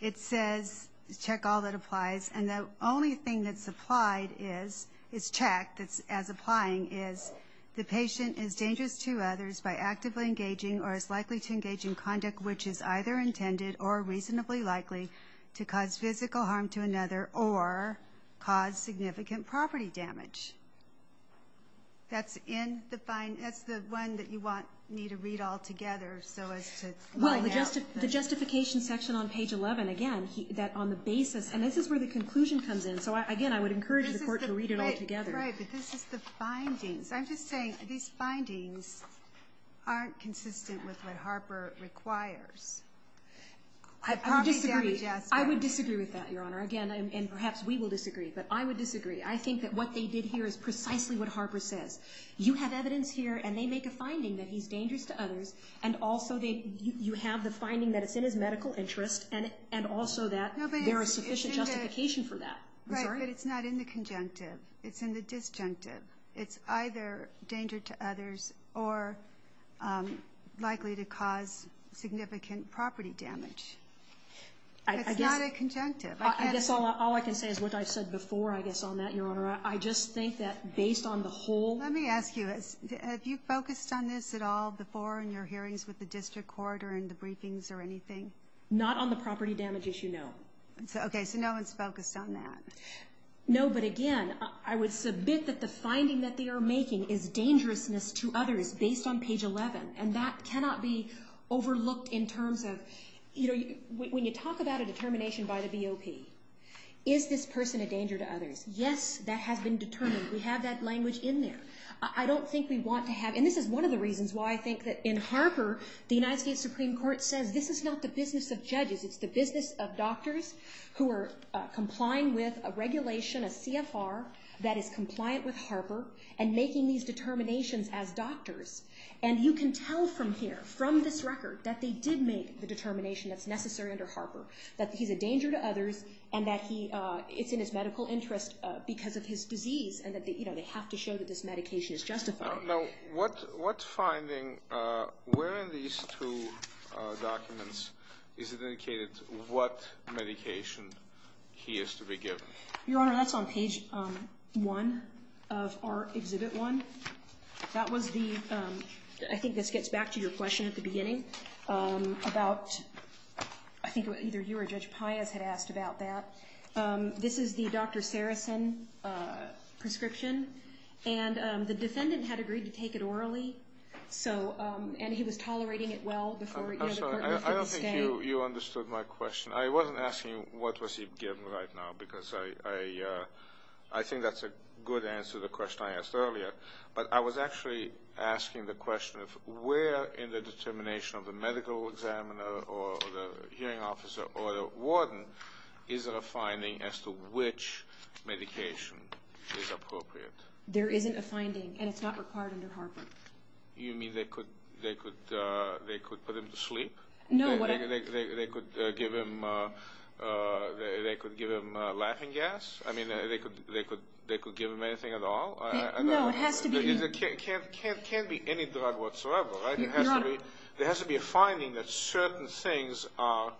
it says check all that applies, and the only thing that's applied is, it's checked as applying, is the patient is dangerous to others by actively engaging or is likely to engage in conduct which is either intended or reasonably likely to cause physical harm to another or cause significant property damage. That's the one that you want me to read all together. The justification section on Page 11, again, that on the basis, and this is where the conclusion comes in. So, again, I would encourage the court to read it all together. Right, but this is the findings. I'm just saying these findings aren't consistent with what Harper requires. I disagree. I would disagree with that, Your Honor. Again, and perhaps we will disagree, but I would disagree. I think that what they did here is precisely what Harper says. You have evidence here, and they make a finding that he's dangerous to others, and also you have the finding that it's in his medical interest and also that there is sufficient justification for that. Right, but it's not in the conjunctive. It's in the disjunctive. It's either danger to others or likely to cause significant property damage. It's not a conjunctive. All I can say is what I said before, I guess, on that, Your Honor. I just think that based on the whole. Let me ask you, have you focused on this at all before in your hearings with the district court or in the briefings or anything? Not on the property damage issue, no. Okay, so no one's focused on that. No, but again, I would submit that the finding that they are making is dangerousness to others based on page 11, and that cannot be overlooked in terms of, you know, when you talk about a determination by the BOP, is this person a danger to others? Yes, that has been determined. We have that language in there. I don't think we want to have, and this is one of the reasons why I think that in Harper the United States Supreme Court says this is not the business of judges, it's the business of doctors who are complying with a regulation, a CFR, that is compliant with Harper and making these determinations as doctors. And you can tell from here, from this record, that they did make the determination that's necessary under Harper, that he's a danger to others and that he is in his medical interest because of his disease and that, you know, they have to show that this medication is justified. Now, what finding, where in these two documents, is it indicated what medication he is to be given? Your Honor, that's on page 1, or exhibit 1. That was the, I think this gets back to your question at the beginning, about, I think either you or Judge Pius had asked about that. This is the Dr. Farrison prescription, and the defendant had agreed to take it orally, and he was tolerating it well before he was able to take it. I don't think you understood my question. I wasn't asking what was he given right now, because I think that's a good answer to the question I asked earlier, but I was actually asking the question of where in the determination of the medical examiner or the hearing officer or the warden is there a finding as to which medication is appropriate? There isn't a finding, and it's not required under Harper. You mean they could put him to sleep? No, whatever. They could give him Latin gas? I mean, they could give him anything at all? No, it has to be... It can't be any drug whatsoever, right? No. There has to be a finding that certain things or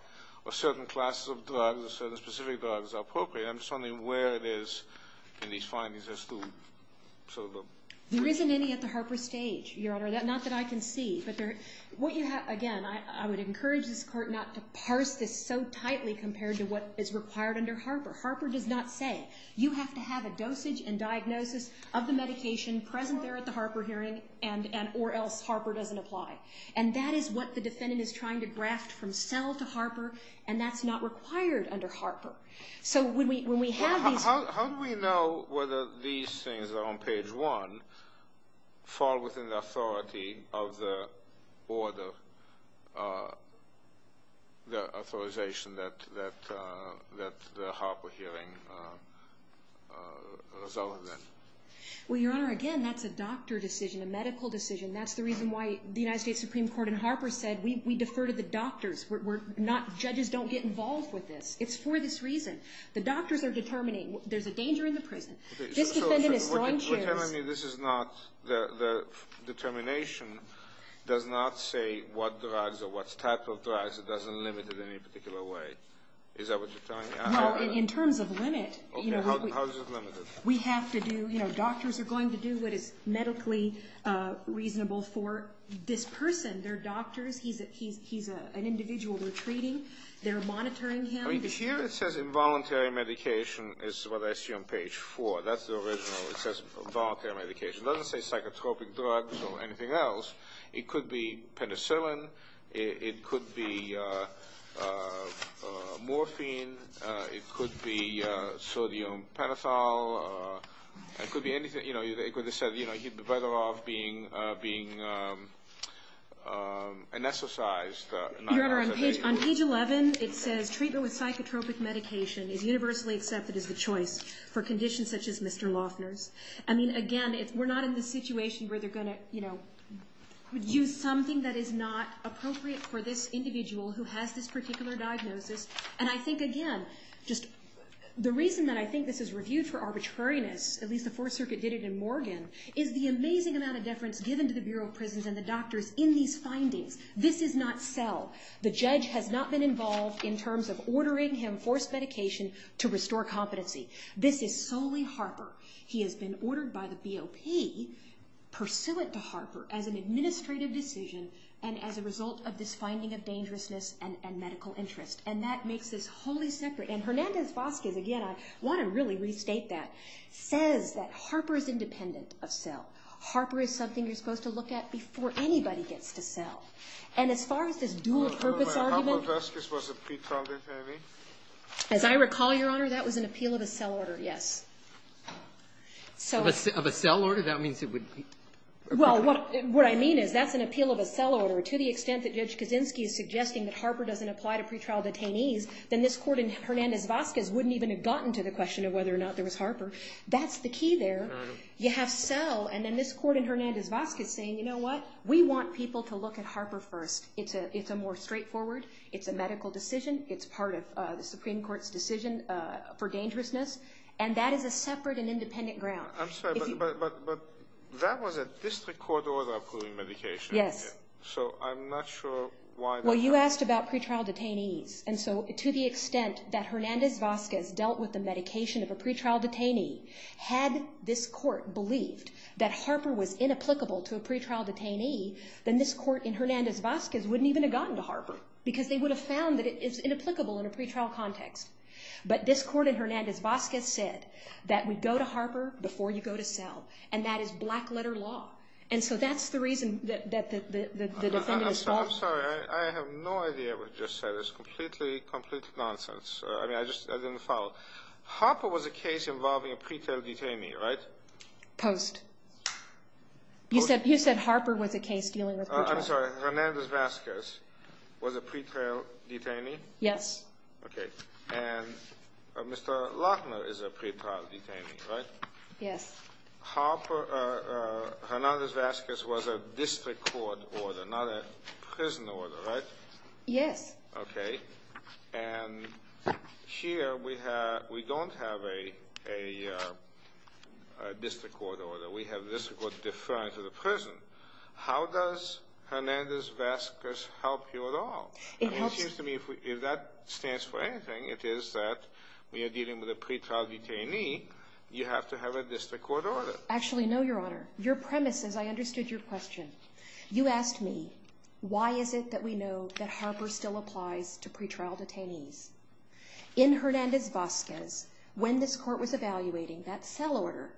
certain classes of drugs or certain specific drugs are appropriate. I'm just wondering where it is in these findings as to sort of the... There isn't any at the Harper stage, Your Honor. Not that I can see, but what you have... Again, I would encourage this Court not to parse this so tightly compared to what is required under Harper. Harper does not say you have to have a dosage and diagnosis of the medication present there at the Harper hearing or else Harper doesn't apply. And that is what the defendant is trying to grasp from cell to Harper, and that's not required under Harper. So when we have these... How do we know whether these things on page 1 fall within the authority of the order, the authorization that the Harper hearing was over then? Well, Your Honor, again, that's a doctor decision, a medical decision. That's the reason why the United States Supreme Court in Harper said we defer to the doctors. Judges don't get involved with this. It's for this reason. The doctors are determining. There's a danger in the prison. This defendant is going to... So you're telling me this is not... The determination does not say what drugs or what type of drugs. It doesn't limit it in any particular way. Is that what you're telling me? No, in terms of limit... Okay, how is it limited? We have to do... Doctors are going to do what is medically reasonable for this person. They're doctors. He's an individual we're treating. They're monitoring him. Here it says involuntary medication is what I see on page 4. That's the original. It says involuntary medication. It doesn't say psychotropic drugs or anything else. It could be penicillin. It could be morphine. It could be sodium penicillin. It could be anything. It says he'd be better off being anesthetized. Your Honor, on page 11, it says treatment with psychotropic medication is universally accepted as a choice for conditions such as Mr. Lossner's. Again, we're not in the situation where they're going to use something that is not appropriate for this individual who has this particular diagnosis. And I think, again, the reason that I think this is reviewed for arbitrariness, at least the Fourth Circuit did it in Morgan, is the amazing amount of deference given to the Bureau of Prisons and the doctors in these findings. This is not fell. The judge has not been involved in terms of ordering him forced medication to restore competency. This is solely Harper. He has been ordered by the BOP, pursuant to Harper, as an administrative decision and as a result of this finding of dangerousness and medical interest. And that makes this wholly separate. And Hernandez-Vazquez, again, I want to really restate that, says that Harper is independent of fell. Harper is something you're supposed to look at before anybody gets to fell. And as far as this dual-purpose argument. As I recall, Your Honor, that was an appeal of a fell order, yes. Of a fell order? That means it would be. Well, what I mean is that's an appeal of a fell order to the extent that if Judge Kaczynski is suggesting that Harper doesn't apply to pretrial detainees, then this court in Hernandez-Vazquez wouldn't even have gotten to the question of whether or not there was Harper. That's the key there. You have fell, and then this court in Hernandez-Vazquez saying, you know what, we want people to look at Harper first. It's a more straightforward, it's a medical decision, it's part of the Supreme Court's decision for dangerousness, and that is a separate and independent ground. I'm sorry, but that was a district court order of pulling medication. Yes. So I'm not sure why. Well, you asked about pretrial detainees, and so to the extent that Hernandez-Vazquez dealt with the medication of a pretrial detainee, had this court believed that Harper was inapplicable to a pretrial detainee, then this court in Hernandez-Vazquez wouldn't even have gotten to Harper because they would have found that it is inapplicable in a pretrial context. But this court in Hernandez-Vazquez said that we go to Harper before you go to fell, and that is black-letter law. And so that's the reason that the defendant's law… I'm sorry. I have no idea what you just said. It's completely, complete nonsense. I mean, I just didn't follow. Harper was a case involving a pretrial detainee, right? Post. You said Harper was a case dealing with… I'm sorry. Hernandez-Vazquez was a pretrial detainee? Yes. Okay. And Mr. Lochner is a pretrial detainee, right? Yes. Harper… Hernandez-Vazquez was a district court order, not a prison order, right? Yes. Okay. And here we don't have a district court order. We have district court deferred to the prison. How does Hernandez-Vazquez help you at all? It helps… It seems to me if that stands for anything, it is that we are dealing with a pretrial detainee. You have to have a district court order. Actually, no, Your Honor. Your premise, as I understood your question, you asked me, why is it that we know that Harper still applies to pretrial detainees? In Hernandez-Vazquez, when this court was evaluating that cell order,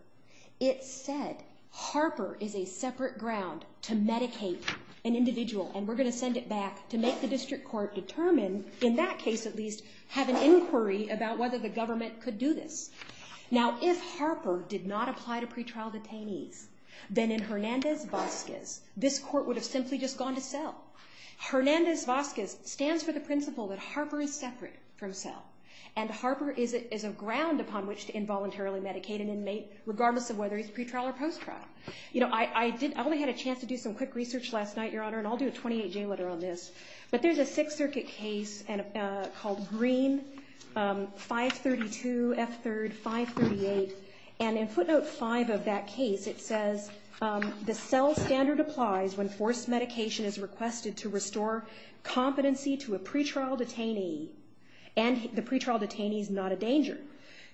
it said Harper is a separate ground to medicate an individual, and we're going to send it back to make the district court determine, in that case at least, have an inquiry about whether the government could do this. Now, if Harper did not apply to pretrial detainees, then in Hernandez-Vazquez, this court would have simply just gone to cell. Hernandez-Vazquez stands for the principle that Harper is separate from cell, and Harper is a ground upon which to involuntarily medicate an inmate, regardless of whether it's pretrial or post-trial. You know, I only had a chance to do some quick research last night, Your Honor, and I'll do a 28-J letter on this, but there's a Sixth Circuit case called Green 532 S. 3rd 538, and in footnote 5 of that case it says, the cell standard applies when forced medication is requested to restore competency to a pretrial detainee, and the pretrial detainee is not a danger.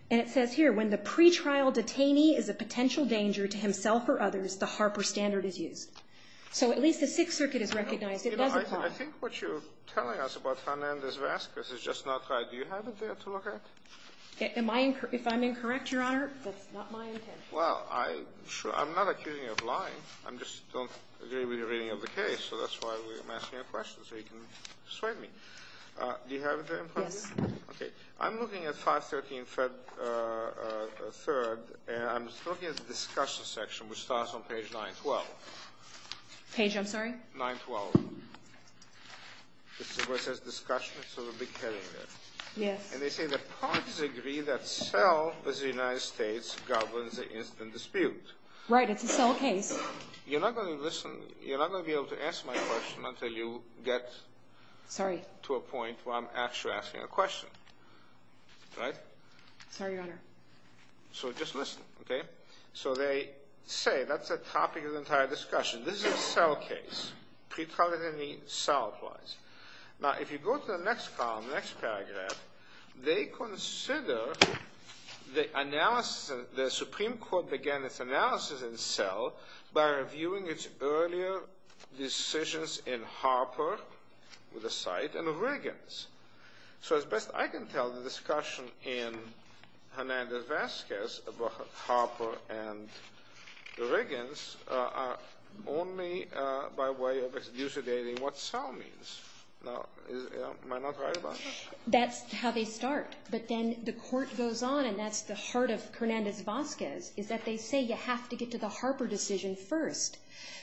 And it says here, when the pretrial detainee is a potential danger to himself or others, the Harper standard is used. So at least the Sixth Circuit has recognized it. I think what you're telling us about Hernandez-Vazquez is just not right. Do you have it there to look at? If I'm incorrect, Your Honor, that's not my intention. Well, I'm not accusing you of lying. I just don't agree with your reading of the case, so that's why I'm asking a question so you can destroy me. Do you have it there in front of you? Yes. Okay. I'm looking at 513 S. 3rd, and I'm just looking at the discussion section, which starts on page 912. Page 913? 912. This is where it says discussion, so we'll be carrying this. Yes. And they say that parties agree that cell, as the United States, governs the incident dispute. Right. It's a cell case. You're not going to listen. You're not going to be able to answer my question until you get to a point where I'm actually asking a question. Right? Sorry, Your Honor. So just listen, okay? So they say that's the topic of the entire discussion. This is a cell case. Precognitively cell-wise. Now, if you go to the next column, next paragraph, they consider the analysis, the Supreme Court began its analysis in cell So as best I can tell, the discussion in Hernandez-Vazquez about Harper and the Riggins are only by way of usurdating what cell means. Am I not right about that? That's how they start. But then the court goes on, and that's the heart of Hernandez-Vazquez, is that they say you have to get to the Harper decision first.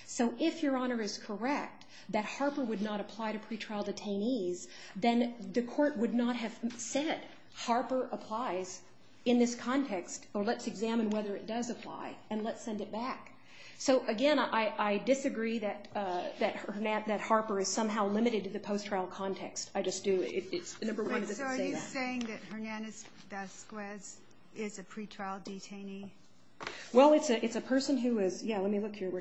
So if Your Honor is correct that Harper would not apply to pretrial detainees, then the court would not have said Harper applies in this context, or let's examine whether it does apply, and let's send it back. So, again, I disagree that Harper is somehow limited to the post-trial context. I just do. It's a number of reasons to say that. So are you saying that Hernandez-Vazquez is a pretrial detainee? Well, it's a person who is, yeah, let me look here.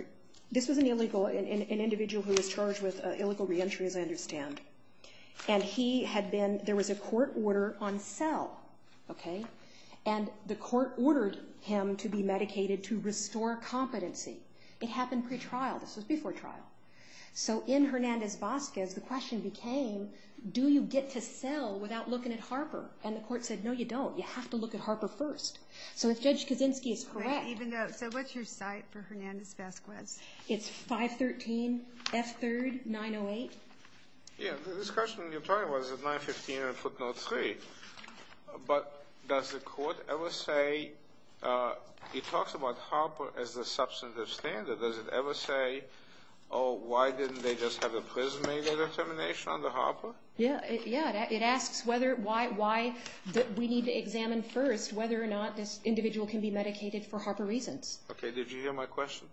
This is an illegal, an individual who was charged with illegal reentry, as I understand. And he had been, there was a court order on cell, okay, and the court ordered him to be medicated to restore competency. It happened pretrial. This was before trial. So in Hernandez-Vazquez, the question became, do you get to cell without looking at Harper? And the court said, no, you don't. You have to look at Harper first. So if Judge Kaczynski is correct. I need the notes. So what's your cite for Hernandez-Vazquez? It's 513 F. 3rd, 908. Yeah, this question you're talking about is at 915 and footnote 3. But does the court ever say, he talks about Harper as a substantive standard. Does it ever say, oh, why didn't they just have a prismated affirmation under Harper? Yeah, it asks why we need to examine first whether or not this individual can be medicated for Harper reasons. Okay, did you hear my question?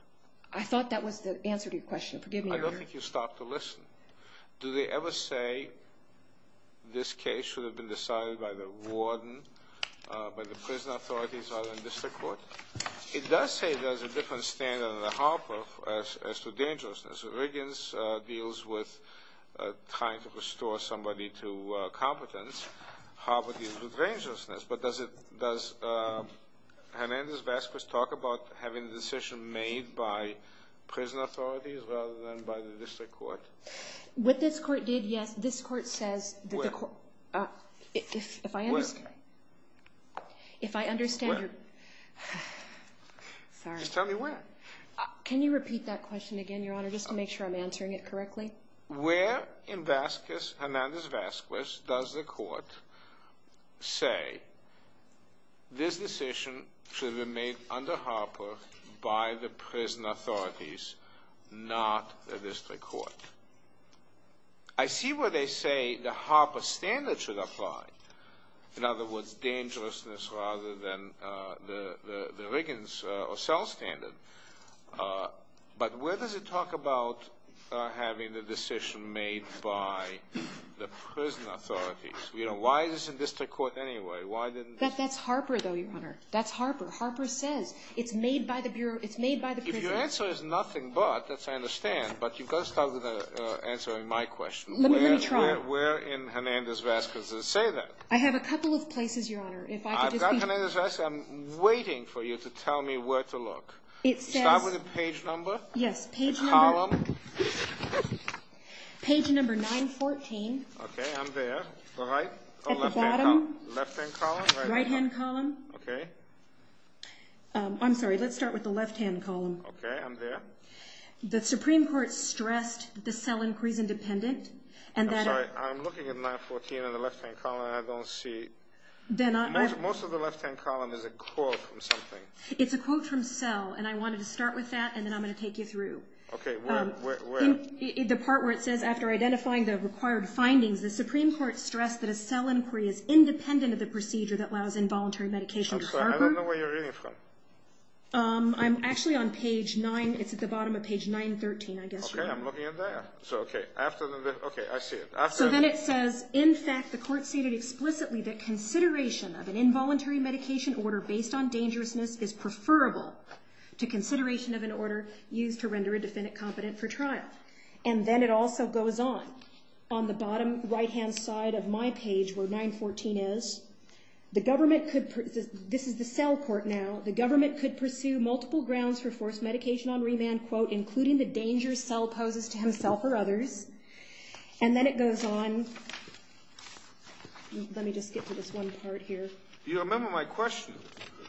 I thought that was the answer to your question. Forgive me. I don't think you stopped to listen. Do they ever say, this case should have been decided by the warden, by the prison authorities or the district court? It does say there's a different standard under Harper as to dangerousness. So Riggins deals with trying to restore somebody to competence. Harper deals with dangerousness. But does Hernandez-Vazquez talk about having the decision made by prison authorities rather than by the district court? What this court did, yes, this court says that the court Wait. Wait. If I understand you Wait. Sorry. Just tell me when. Can you repeat that question again, Your Honor, just to make sure I'm answering it correctly? Where in Hernandez-Vazquez does the court say this decision should be made under Harper by the prison authorities, not the district court? I see where they say the Harper standard should apply. In other words, dangerousness rather than the Riggins or Sell standard. But where does it talk about having the decision made by the prison authorities? Why the district court anyway? That's Harper, though, Your Honor. That's Harper. Harper says it's made by the prison authorities. Your answer is nothing but. That's what I understand. But you've got to start with answering my question. Let me try. Where in Hernandez-Vazquez does it say that? I have a couple of places, Your Honor. I've got Hernandez-Vazquez. I'm waiting for you to tell me where to look. Start with the page number. Yes, page number. Column. Page number 914. Okay, I'm there. The right? At the bottom. Left-hand column? Right-hand column. Okay. I'm sorry. Let's start with the left-hand column. Okay, I'm there. The Supreme Court stressed the cell in prison dependent. I'm sorry. I'm looking at 914 in the left-hand column, and I don't see. Most of the left-hand column is a quote from something. It's a quote from Cell, and I wanted to start with that, and then I'm going to take you through. Okay, where? The part where it says, after identifying the required findings, the Supreme Court stressed that a cell inquiry is independent of the procedure that allows involuntary medication to occur. I'm sorry. I don't know where you're reading from. I'm actually on page 9. It's at the bottom of page 913, I guess. Okay, I'm looking at that. Okay, I see it. So then it says, in fact, the court stated explicitly that consideration of an involuntary medication order based on dangerousness is preferable to consideration of an order used to render a defendant competent for trial. And then it also goes on. On the bottom right-hand side of my page, where 914 is, the government could – this is the Cell court now – the government could pursue multiple grounds for forced medication on remand, quote, including the dangers Cell poses to himself or others. And then it goes on. Let me just skip to this one part here. You remember my question.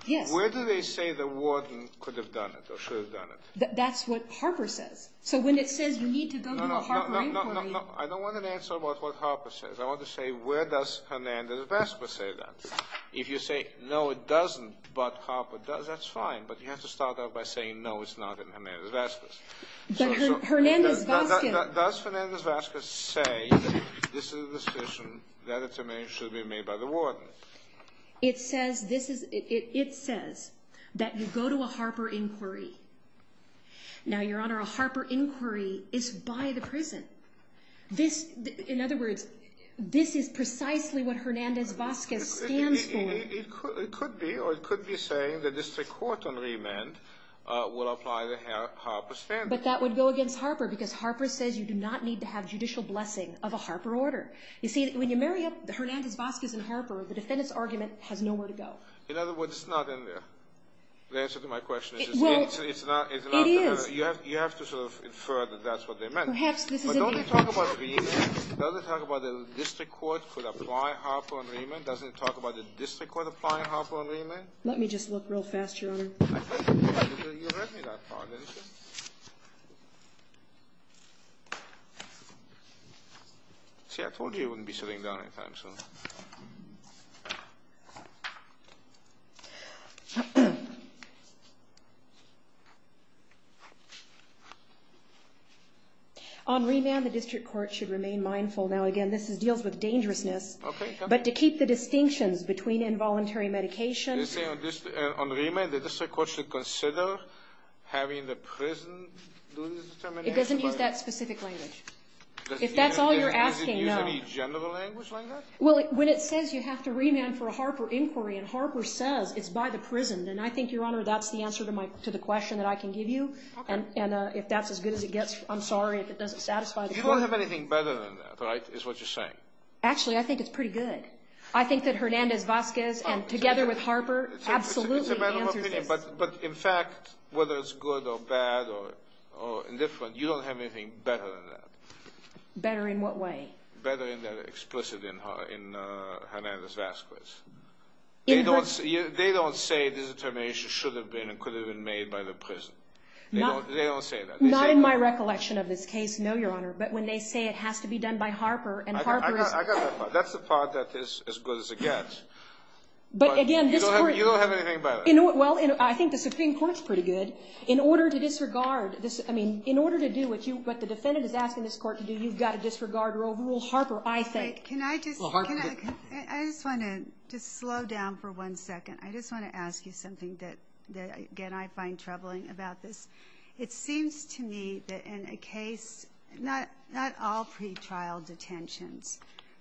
Yes. Where do they say the warden could have done it or should have done it? That's what Harper says. So when it says you need to go to the Harper inquiry – No, no, no, no, no, no. I don't want an answer about what Harper says. I want to say, where does Hernandez-Vasquez say that? If you say, no, it doesn't, but Harper does, that's fine. But you have to start out by saying, no, it's not in Hernandez-Vasquez. Does Hernandez-Vasquez say this is a decision that should be made by the warden? It says this is – it says that you go to a Harper inquiry. Now, Your Honor, a Harper inquiry is by the prison. In other words, this is precisely what Hernandez-Vasquez stands for. It could be, or it could be saying that this is a court on remand, would apply the Harper standard. But that would go against Harper because Harper says you do not need to have judicial blessing of a Harper order. You see, when you marry up Hernandez-Vasquez and Harper, the defendant's argument has nowhere to go. In other words, it's not in there. The answer to my question is it's not. It is. You have to sort of infer that that's what they meant. But don't they talk about the district court could apply Harper on remand? Doesn't it talk about the district court applying Harper on remand? Let me just look real fast, Your Honor. You read me last time, didn't you? See, I told you you wouldn't be sitting down in time, so. On remand, the district court should remain mindful. Now, again, this deals with dangerousness. Okay. But to keep the distinction between involuntary medication. On remand, the district court should consider having the prison lose determination. It doesn't use that specific language. If that's all you're asking, no. Does it use any general language on this? Well, when it says you have to remand for a Harper inquiry and Harper says it's by the prison, then I think, Your Honor, that's the answer to the question that I can give you. And if that's as good as it gets, I'm sorry if it doesn't satisfy the court. You don't have anything better than that, right, is what you're saying? Actually, I think it's pretty good. I think that Hernandez-Vasquez and together with Harper absolutely answer the question. But, in fact, whether it's good or bad or indifferent, you don't have anything better than that. Better in what way? Better in the explicit in Hernandez-Vasquez. They don't say the determination should have been and could have been made by the prison. They don't say that. Not in my recollection of this case, no, Your Honor. But when they say it has to be done by Harper and Harper— That's the part that is as good as it gets. But, again— You don't have anything better. Well, I think the Supreme Court's pretty good. In order to disregard—I mean, in order to do what the defendant has asked in this court to do, you've got to disregard rule Harper, I think. Can I just—I just want to slow down for one second. I just want to ask you something that, again, I find troubling about this. It seems to me that in a case—not all pretrial detention,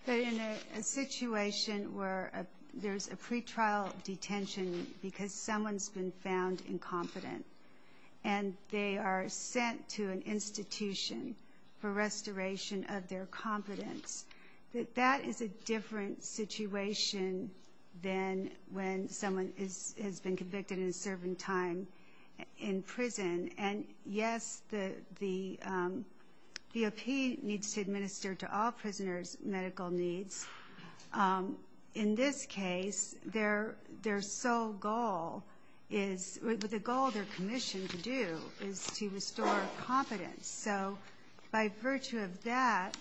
but in a situation where there's a pretrial detention because someone's been found incompetent and they are sent to an institution for restoration of their competence, that that is a different situation than when someone has been convicted and is serving time in prison. And, yes, the DOP needs to administer to all prisoners medical needs. In this case, their sole goal is—the goal they're commissioned to do is to restore competence. So, by virtue of that,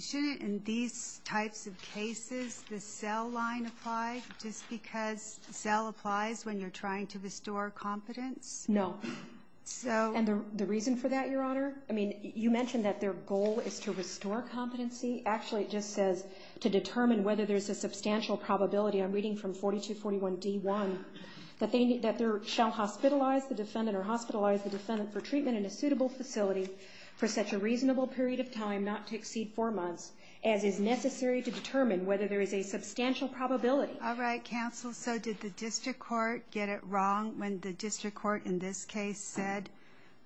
shouldn't, in these types of cases, the Zell line apply? Is this because Zell applies when you're trying to restore competence? No. And the reason for that, Your Honor? I mean, you mentioned that their goal is to restore competency. Actually, it just says to determine whether there's a substantial probability—I'm reading from 4241d.1— that they shall hospitalize the defendant or hospitalize the defendant for treatment in a suitable facility for such a reasonable period of time, not to exceed four months, as is necessary to determine whether there is a substantial probability. All right, counsel. So did the district court get it wrong when the district court in this case said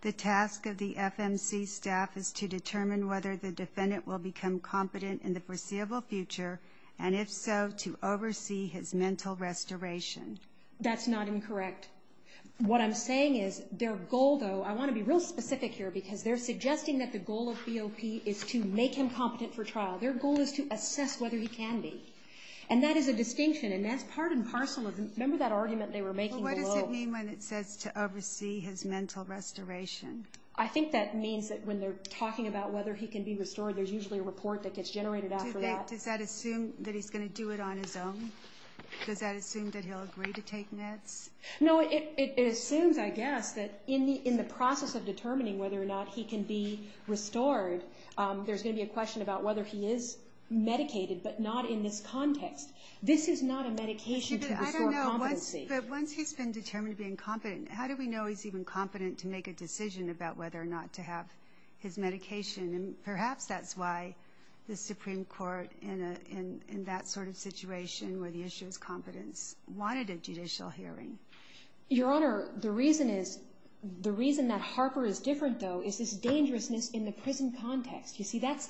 the task of the FMC staff is to determine whether the defendant will become competent in the foreseeable future, and if so, to oversee his mental restoration? That's not incorrect. What I'm saying is their goal, though—I want to be real specific here, because they're suggesting that the goal of COP is to make him competent for trial. Their goal is to assess whether he can be. And that is a distinction, and that's part and parcel of—remember that argument they were making below? Well, what does it mean when it says to oversee his mental restoration? I think that means that when they're talking about whether he can be restored, there's usually a report that gets generated after that. Does that assume that he's going to do it on his own? Does that assume that he'll agree to take NEDS? No, it assumes, I guess, that in the process of determining whether or not he can be restored, there's going to be a question about whether he is medicated, but not in this context. This is not a medication to restore competency. I don't know. Once he's been determined to be incompetent, how do we know he's even competent to make a decision about whether or not to have his medication? And perhaps that's why the Supreme Court, in that sort of situation where the issue of competence, wanted a judicial hearing. Your Honor, the reason that Harper is different, though, is his dangerousness in the prison context. You see, that's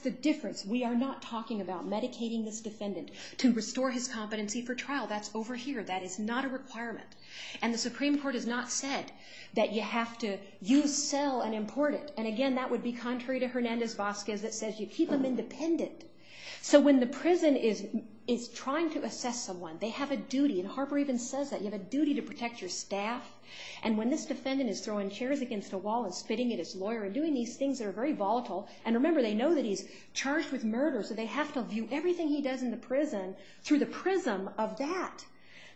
the difference. We are not talking about medicating this defendant to restore his competency for trial. That's over here. That is not a requirement. And the Supreme Court has not said that you have to use, sell, and import it. And, again, that would be contrary to Hernandez-Vazquez. It says you keep them independent. So when the prison is trying to assess someone, they have a duty, and Harper even says that, you have a duty to protect your staff. And when this defendant is throwing chairs against a wall and spitting at his lawyer and doing these things that are very volatile, and remember, they know that he's charged with murder, so they have to view everything he does in the prison through the prism of that.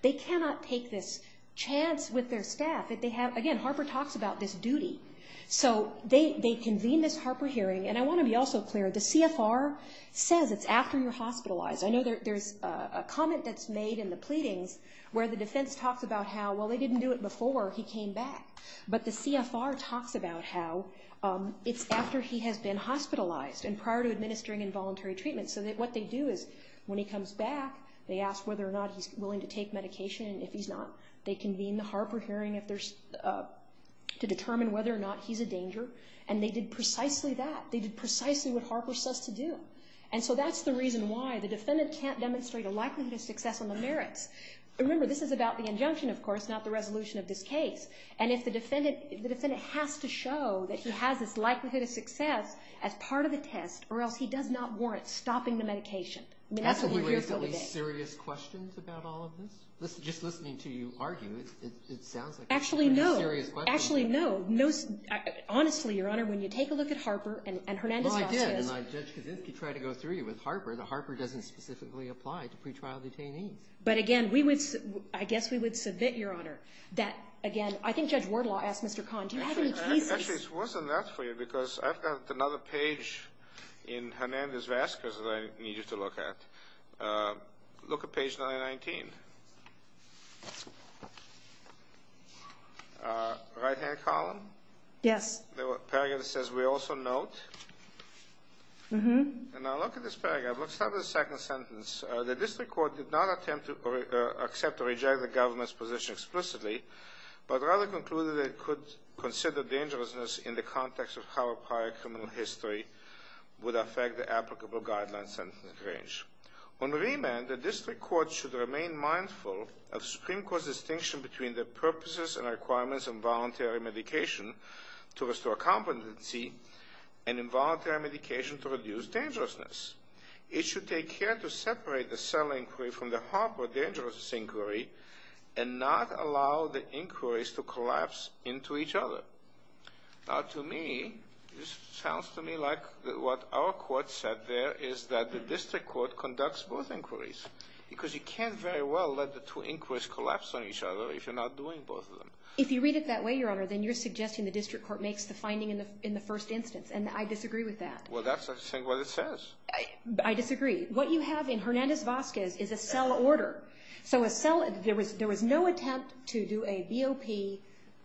They cannot take this chance with their staff that they have. Again, Harper talks about this duty. So they convene this Harper hearing, and I want to be also clear, the CFR says it's after you're hospitalized. I know there's a comment that's made in the pleading where the defense talks about how, well, they didn't do it before he came back, but the CFR talks about how it's after he has been hospitalized and prior to administering involuntary treatment. So what they do is when he comes back, they ask whether or not he's willing to take medication, and if he's not, they convene the Harper hearing to determine whether or not he's a danger, and they did precisely that. They did precisely what Harper says to do. And so that's the reason why the defendant can't demonstrate a likelihood of success on the merits. Remember, this is about the injunction, of course, not the resolution of this case. And if the defendant has to show that he has this likelihood of success as part of a test or else he does not warrant stopping the medication, that's what we're here for today. Any serious questions about all of this? Just listening to you argue, it sounds like serious questions. Actually, no. Honestly, Your Honor, when you take a look at Harper and Hernandez-Vasquez. Well, I did, and I just tried to go through you with Harper, and Harper doesn't specifically apply to pretrial detainees. But, again, I guess we would submit, Your Honor, that, again, I think Judge Wardlaw asked Mr. Kahn. Actually, it's worse than that for you because I've got another page in Hernandez-Vasquez that I need you to look at. Look at page 919. Right-hand column? Yes. There's a paragraph that says, We also note. And I look at this paragraph. Let's start with the second sentence. The district court did not attempt to accept or reject the government's position explicitly, but rather concluded it could consider dangerousness in the context of how prior criminal history would affect the applicable guidelines and sentence range. On remand, the district court should remain mindful of Supreme Court's distinction between the purposes and requirements of voluntary medication to restore competency and involuntary medication to reduce dangerousness. It should take care to separate the cell inquiry from the Harper dangerousness inquiry and not allow the inquiries to collapse into each other. Now, to me, this sounds to me like what our court said there is that the district court conducts both inquiries because you can't very well let the two inquiries collapse on each other if you're not doing both of them. If you read it that way, Your Honor, then you're suggesting the district court makes the finding in the first instance, and I disagree with that. Well, that's what it says. I disagree. What you have in Hernandez-Vasquez is a cell order. There was no attempt to do a DOP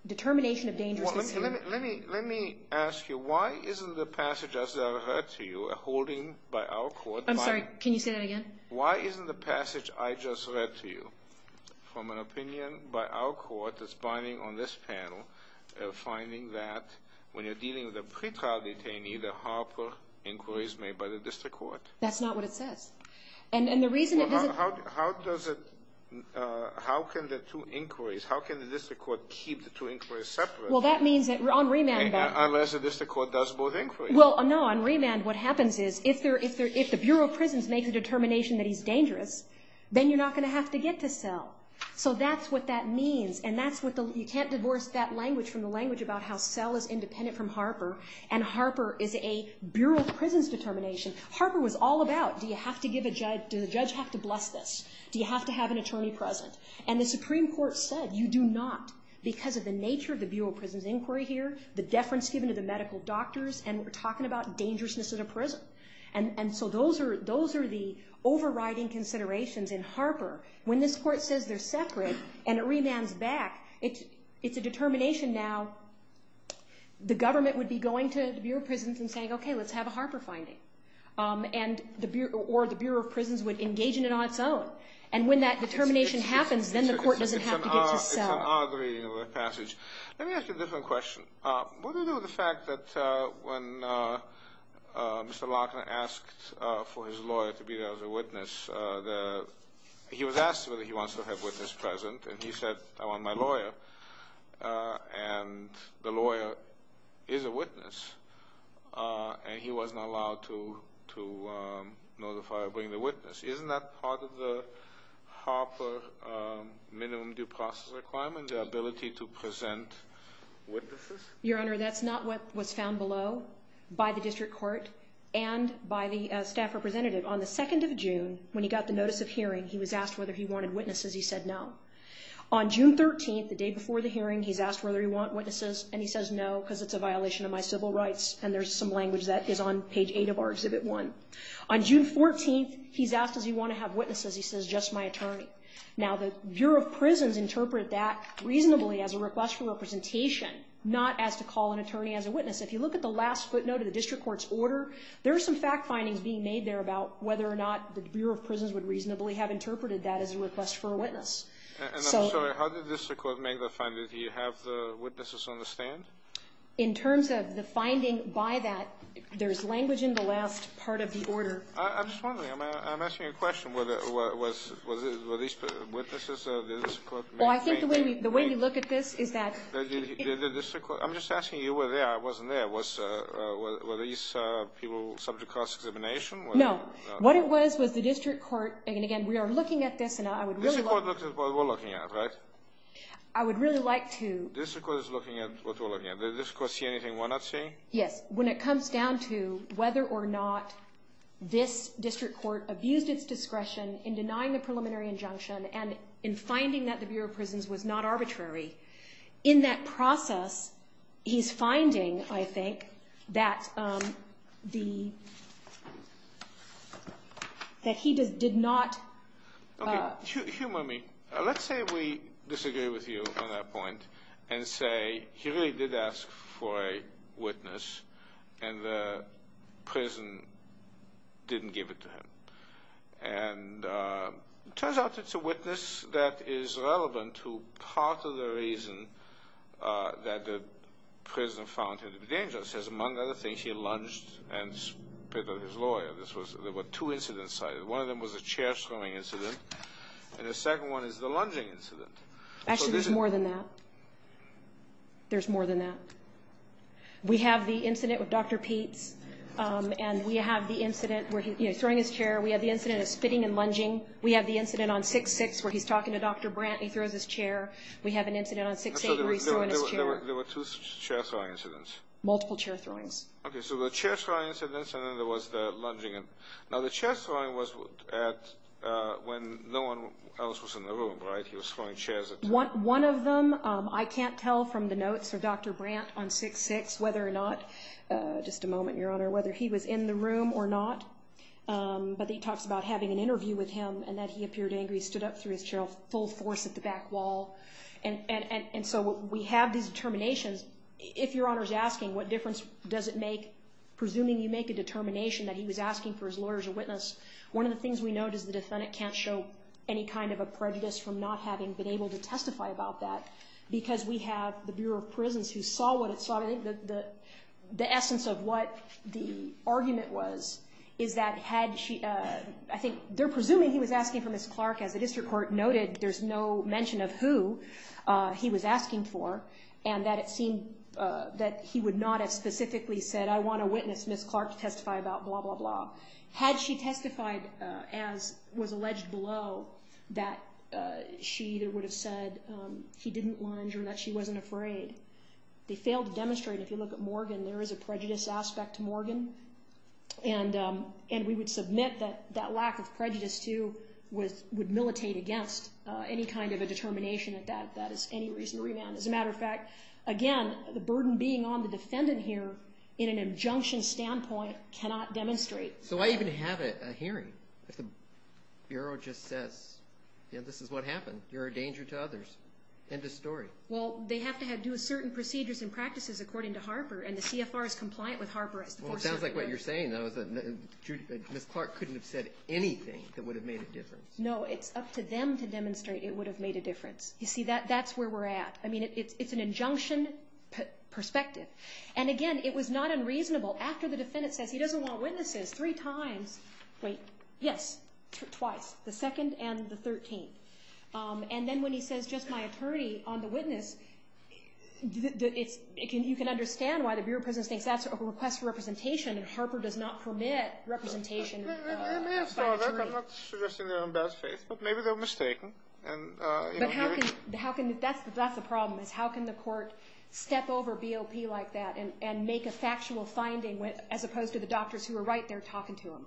determination of dangerousness. Let me ask you, why isn't the passage I just read to you, a holding by our court? I'm sorry, can you say that again? Why isn't the passage I just read to you from an opinion by our court that's binding on this panel, a finding that when you're dealing with a pretrial detainee, the Harper inquiry is made by the district court? That's not what it says. How can the two inquiries, how can the district court keep the two inquiries separate? Unless the district court does both inquiries. Well, no, on remand what happens is if the Bureau of Prisons makes a determination that he's dangerous, then you're not going to have to get to cell. So that's what that means, and you can't divorce that language from the language about how cell is independent from Harper, and Harper is a Bureau of Prisons determination. Harper was all about, do you have to give a judge, do the judge have to bless this? Do you have to have an attorney present? And the Supreme Court said you do not because of the nature of the Bureau of Prisons inquiry here, the deference given to the medical doctors, and we're talking about dangerousness of the prison. And so those are the overriding considerations in Harper. When this court says they're separate and it remands back, it's a determination now, the government would be going to the Bureau of Prisons and saying, okay, let's have a Harper finding, or the Bureau of Prisons would engage in an on its own. And when that determination happens, then the court doesn't have to get to cell. I agree with the passage. Let me ask you a different question. What do you do with the fact that when Mr. Lockner asked for his lawyer to be the witness, he was asked whether he wants to have a witness present, and he said, I want my lawyer. And the lawyer is a witness, and he wasn't allowed to notify or bring the witness. Isn't that part of the Harper minimum due process requirement, the ability to present witnesses? Your Honor, that's not what was found below by the district court and by the staff representative. On the 2nd of June, when he got the notice of hearing, he was asked whether he wanted witnesses. He said no. On June 13th, the day before the hearing, he was asked whether he wanted witnesses, and he says no because it's a violation of my civil rights, and there's some language that is on page 8 of our Exhibit 1. On June 14th, he's asked, does he want to have witnesses? He says, just my attorney. Now, the Bureau of Prisons interpret that reasonably as a request for representation, not as to call an attorney as a witness. If you look at the last footnote of the district court's order, there are some fact findings being made there about whether or not the Bureau of Prisons would reasonably have interpreted that as a request for a witness. I'm sorry. How did the district court make the findings? Do you have the witnesses on the stand? In terms of the finding by that, there's language in the last part of the order. I'm just wondering. I'm asking a question. Were these witnesses that the district court made? Well, I think the way we look at this is that— Did the district court—I'm just asking you were there. I wasn't there. Were these people subject to discrimination? No. What it was was the district court—and, again, we are looking at this, and I would really like to— The district court looks at what we're looking at, right? I would really like to— The district court is looking at what we're looking at. Does the district court see anything we're not seeing? Yes. When it comes down to whether or not this district court abused its discretion in denying a preliminary injunction and in finding that the Bureau of Prisons was not arbitrary, in that process, he's finding, I think, that he did not— Okay. Humor me. Let's say we disagree with you on that point and say he really did ask for a witness And it turns out that it's a witness that is relevant to part of the reason that the prison found him dangerous. Among other things, he lunged and spit on his lawyer. There were two incidents cited. One of them was a chair-swimming incident, and the second one is the lunging incident. Actually, there's more than that. There's more than that. We have the incident with Dr. Peet, and we have the incident where he's throwing his chair. We have the incident of spitting and lunging. We have the incident on 6-6 where he's talking to Dr. Brandt and he throws his chair. We have an incident on 6-8 where he's throwing his chair. There were two chair-throwing incidents. Multiple chair-throwings. Okay. So there were chair-throwing incidents, and then there was the lunging. Now, the chair-throwing was when no one else was in the room, right? He was throwing chairs. One of them, I can't tell from the notes for Dr. Brandt on 6-6 whether or not—just a moment, Your Honor— whether he was in the room or not. But he talks about having an interview with him and that he appeared angry. He stood up to his chair full force at the back wall. And so we have these determinations. If Your Honor is asking what difference does it make, presuming you make a determination that he was asking for his lawyer's witness, one of the things we know is the defendant can't show any kind of a prejudice from not having been able to testify about that because we have the Bureau of Prisons who saw what it saw. The essence of what the argument was is that had she—I think they're presuming he was asking for Ms. Clark as the district court noted there's no mention of who he was asking for and that it seemed that he would not have specifically said, I want to witness Ms. Clark testify about blah, blah, blah. Had she testified as was alleged below that she either would have said he didn't want her, that she wasn't afraid, they failed to demonstrate. If you look at Morgan, there is a prejudice aspect to Morgan. And we would submit that that lack of prejudice, too, would militate against any kind of a determination that that is any reason to remand. As a matter of fact, again, the burden being on the defendant here in an injunction standpoint cannot demonstrate. So I even have a hearing. The Bureau just said, this is what happens. You're a danger to others. End of story. Well, they have to do certain procedures and practices according to Harper and the CFR is compliant with Harper. Well, it sounds like what you're saying, though, that Ms. Clark couldn't have said anything that would have made a difference. No, it's up to them to demonstrate it would have made a difference. You see, that's where we're at. I mean, it's an injunction perspective. And, again, it was not unreasonable. After the defendant says he doesn't want witnesses three times, wait, yes, twice, the second and the thirteenth. And then when he says, just my attorney, on the witness, you can understand why the Bureau of Prisons says that's a request for representation, and Harper does not permit representation. They're not suggesting they're in bad faith, but maybe they're mistaken. But that's the problem. How can the court step over BOP like that and make a factual finding as opposed to the doctors who are right there talking to him?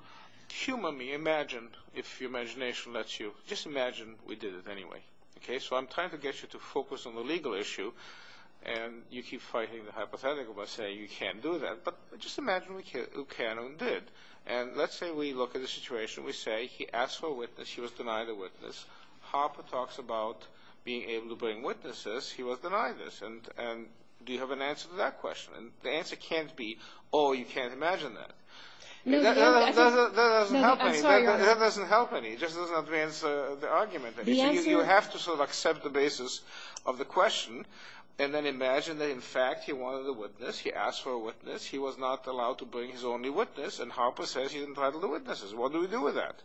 Humanly imagine, if your imagination lets you, just imagine we did it anyway. So I'm trying to get you to focus on the legal issue, and you keep fighting the hypothetical by saying you can't do that. But just imagine we can and did. And let's say we look at the situation. We say he asked for a witness. He was denied a witness. Harper talks about being able to bring witnesses. He was denied this. And do you have an answer to that question? And the answer can't be, oh, you can't imagine that. That doesn't help any. That doesn't help any. It just doesn't advance the argument. You have to sort of accept the basis of the question and then imagine that, in fact, he wanted a witness. He asked for a witness. He was not allowed to bring his only witness, and Harper says he's entitled to witnesses. What do we do with that?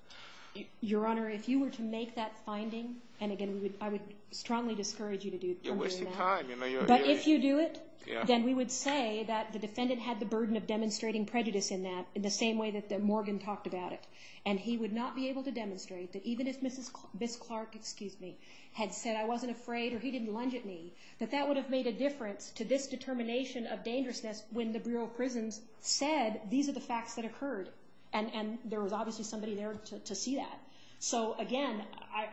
Your Honor, if you were to make that finding, and, again, I would strongly discourage you to do something like that. You're wasting time. But if you do it, then we would say that the defendant had the burden of demonstrating prejudice in that in the same way that Morgan talked about it. And he would not be able to demonstrate that, even if Ms. Clark had said I wasn't afraid or he didn't lunge at me, that that would have made a difference to this determination of dangerousness when the Bureau of Prisons said these are the facts that occurred and there was obviously somebody there to see that. So, again,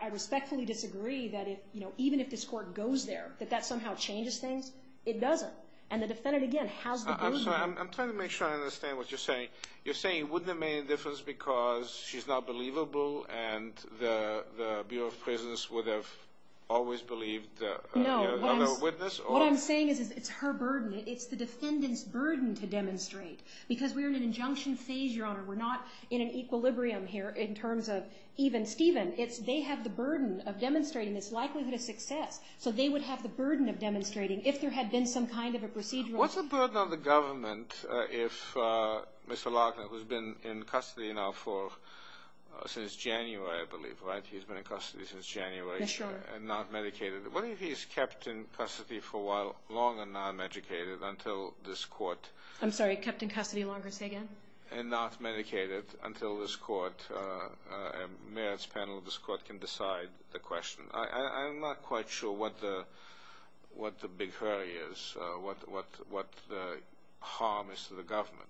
I respectfully disagree that even if this court goes there, that that somehow changes things. It doesn't. And the defendant, again, has the burden. I'm sorry. I'm trying to make sure I understand what you're saying. You're saying it wouldn't have made a difference because she's not believable and the Bureau of Prisons would have always believed the other witness? No. What I'm saying is it's her burden. It's the defendant's burden to demonstrate because we're in an injunction stage, Your Honor. We're not in an equilibrium here in terms of even Stephen. They have the burden of demonstrating. It's likely to be a success. So they would have the burden of demonstrating if there had been some kind of a procedural. What's the burden on the government if Mr. Larkin, who's been in custody now since January, I believe, right? He's been in custody since January and not medicated. What if he's kept in custody for a while, long and not medicated, until this court? I'm sorry. Kept in custody longer. Say again? And not medicated until this court, and mayors panel of this court can decide the question. I'm not quite sure what the big hurry is, what the harm is to the government.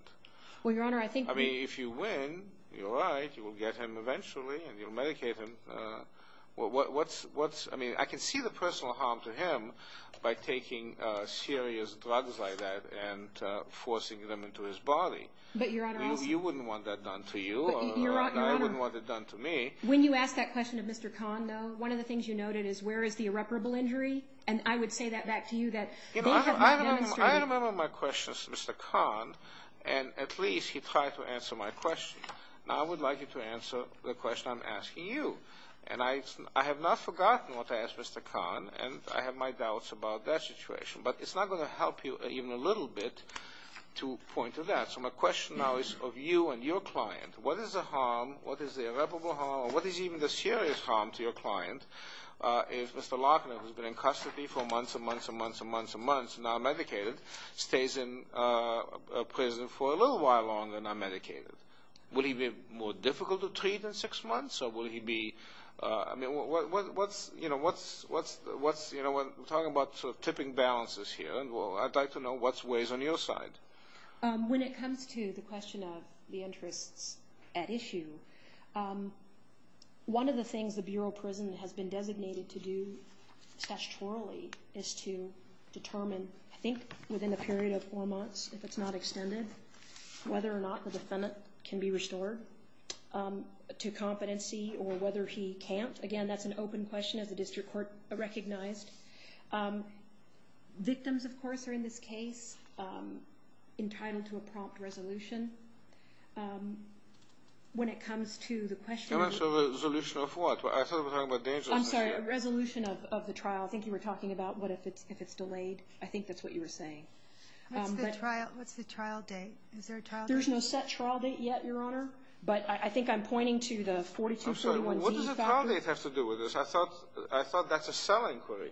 Well, Your Honor, I think the... I mean, if you win, you're right, you will get him eventually and you'll medicate him. I mean, I can see the personal harm to him by taking serious drugs like that and forcing them into his body. But, Your Honor... You wouldn't want that done to you, and I wouldn't want it done to me. When you ask that question of Mr. Kahn, though, one of the things you noted is where is the irreparable injury, and I would say that back to you that... I remember my question to Mr. Kahn, and at least he tried to answer my question. Now I would like him to answer the question I'm asking you. And I have not forgotten what I asked Mr. Kahn, and I have my doubts about that situation. But it's not going to help you even a little bit to point to that. So my question now is of you and your client. What is the harm, what is the irreparable harm, or what is even the serious harm to your client if Mr. Larkin, who's been in custody for months and months and months and months and months, not medicated, stays in prison for a little while longer, not medicated? Will he be more difficult to treat in six months, or will he be... I mean, what's... I'd like to know what's ways on your side. When it comes to the question of the entrance at issue, one of the things the Bureau of Prison has been designated to do statutorily is to determine, I think, within a period of four months, if it's not extended, whether or not the defendant can be restored to competency or whether he can't. Again, that's an open question as the district court recognized. Victims, of course, are in this case entitled to a prompt resolution. When it comes to the question of... Resolution of what? I thought we were talking about... I'm sorry, resolution of the trial. I think you were talking about what if it's delayed. I think that's what you were saying. What's the trial date? Is there a trial date? There's no set trial date yet, Your Honor, but I think I'm pointing to the 42-41... I'm sorry, what does the trial date have to do with this? I thought that's a cell inquiry.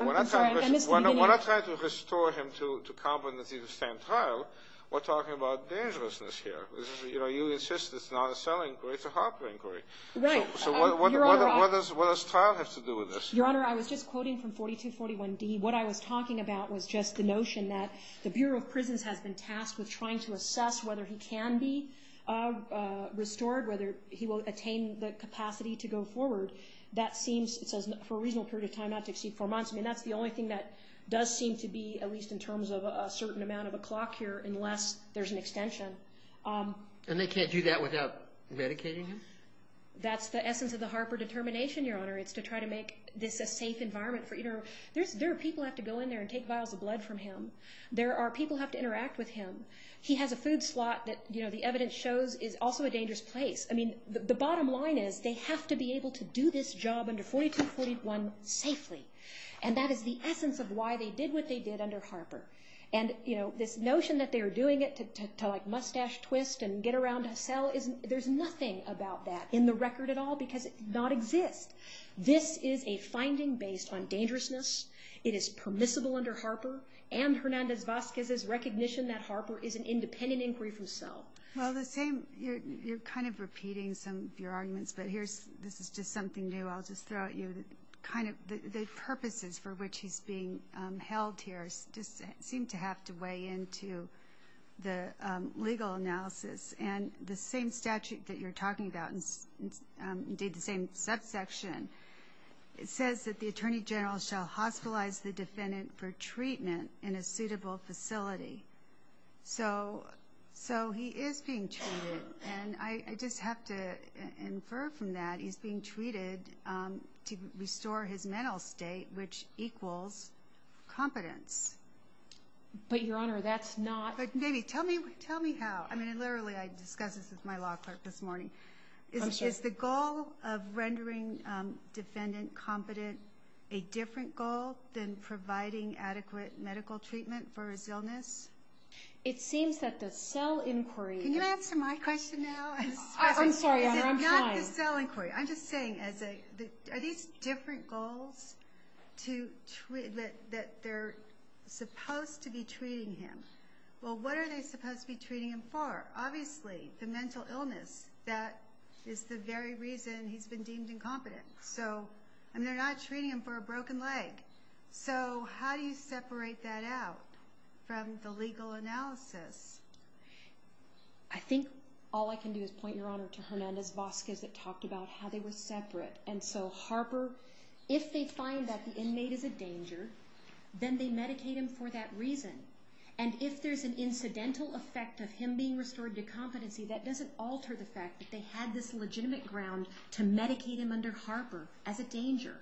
When I try to restore him to competency to stand trial, we're talking about dangerousness here. You insist it's not a cell inquiry, it's a heart failure inquiry. Right. What does trial have to do with this? Your Honor, I was just quoting from 42-41D. What I was talking about was just the notion that the Bureau of Prison has been tasked with trying to assess whether he can be restored, whether he will attain the capacity to go forward. That seems, for a reasonable period of time, not to exceed four months. I mean, that's the only thing that does seem to be, at least in terms of a certain amount of a clock here, unless there's an extension. And they can't do that without medicating him? That's the essence of the Harper determination, Your Honor. It's to try to make this a safe environment for either... There are people who have to go in there and take vials of blood from him. There are people who have to interact with him. He has a food slot that the evidence shows is also a dangerous place. I mean, the bottom line is they have to be able to do this job under 42-41 safely. And that is the essence of why they did what they did under Harper. And this notion that they were doing it to mustache twist and get around a cell, there's nothing about that in the record at all because it does not exist. This is a finding based on dangerousness. It is permissible under Harper. And Hernandez-Vazquez's recognition that Harper is an independent inquiry from self. Well, you're kind of repeating some of your arguments, but this is just something new I'll just throw at you. The purposes for which he's being held here seem to have to weigh into the legal analysis. And the same statute that you're talking about, the same subsection, it says that the attorney general shall hospitalize the defendant for treatment in a suitable facility. So he is being treated. And I just have to infer from that he's being treated to restore his mental state, which equals competence. But, Your Honor, that's not – Maybe. Tell me how. I mean, literally, I discussed this with my law clerk this morning. Is the goal of rendering defendant competent a different goal than providing adequate medical treatment for his illness? It seems that the cell inquiry – Can you answer my question now? I'm sorry, Your Honor. I'm sorry. It's not the cell inquiry. I'm just saying, are these different goals that they're supposed to be treating him? Well, what are they supposed to be treating him for? Obviously, the mental illness. That is the very reason he's been deemed incompetent. So – and they're not treating him for a broken leg. So how do you separate that out from the legal analysis? I think all I can do is point, Your Honor, to Hernandez-Vazquez that talked about how they were separate. And so Harper – if they find that the inmate is a danger, then they medicate him for that reason. And if there's an incidental effect of him being restored to competency, that doesn't alter the fact that they had this legitimate ground to medicate him under Harper as a danger.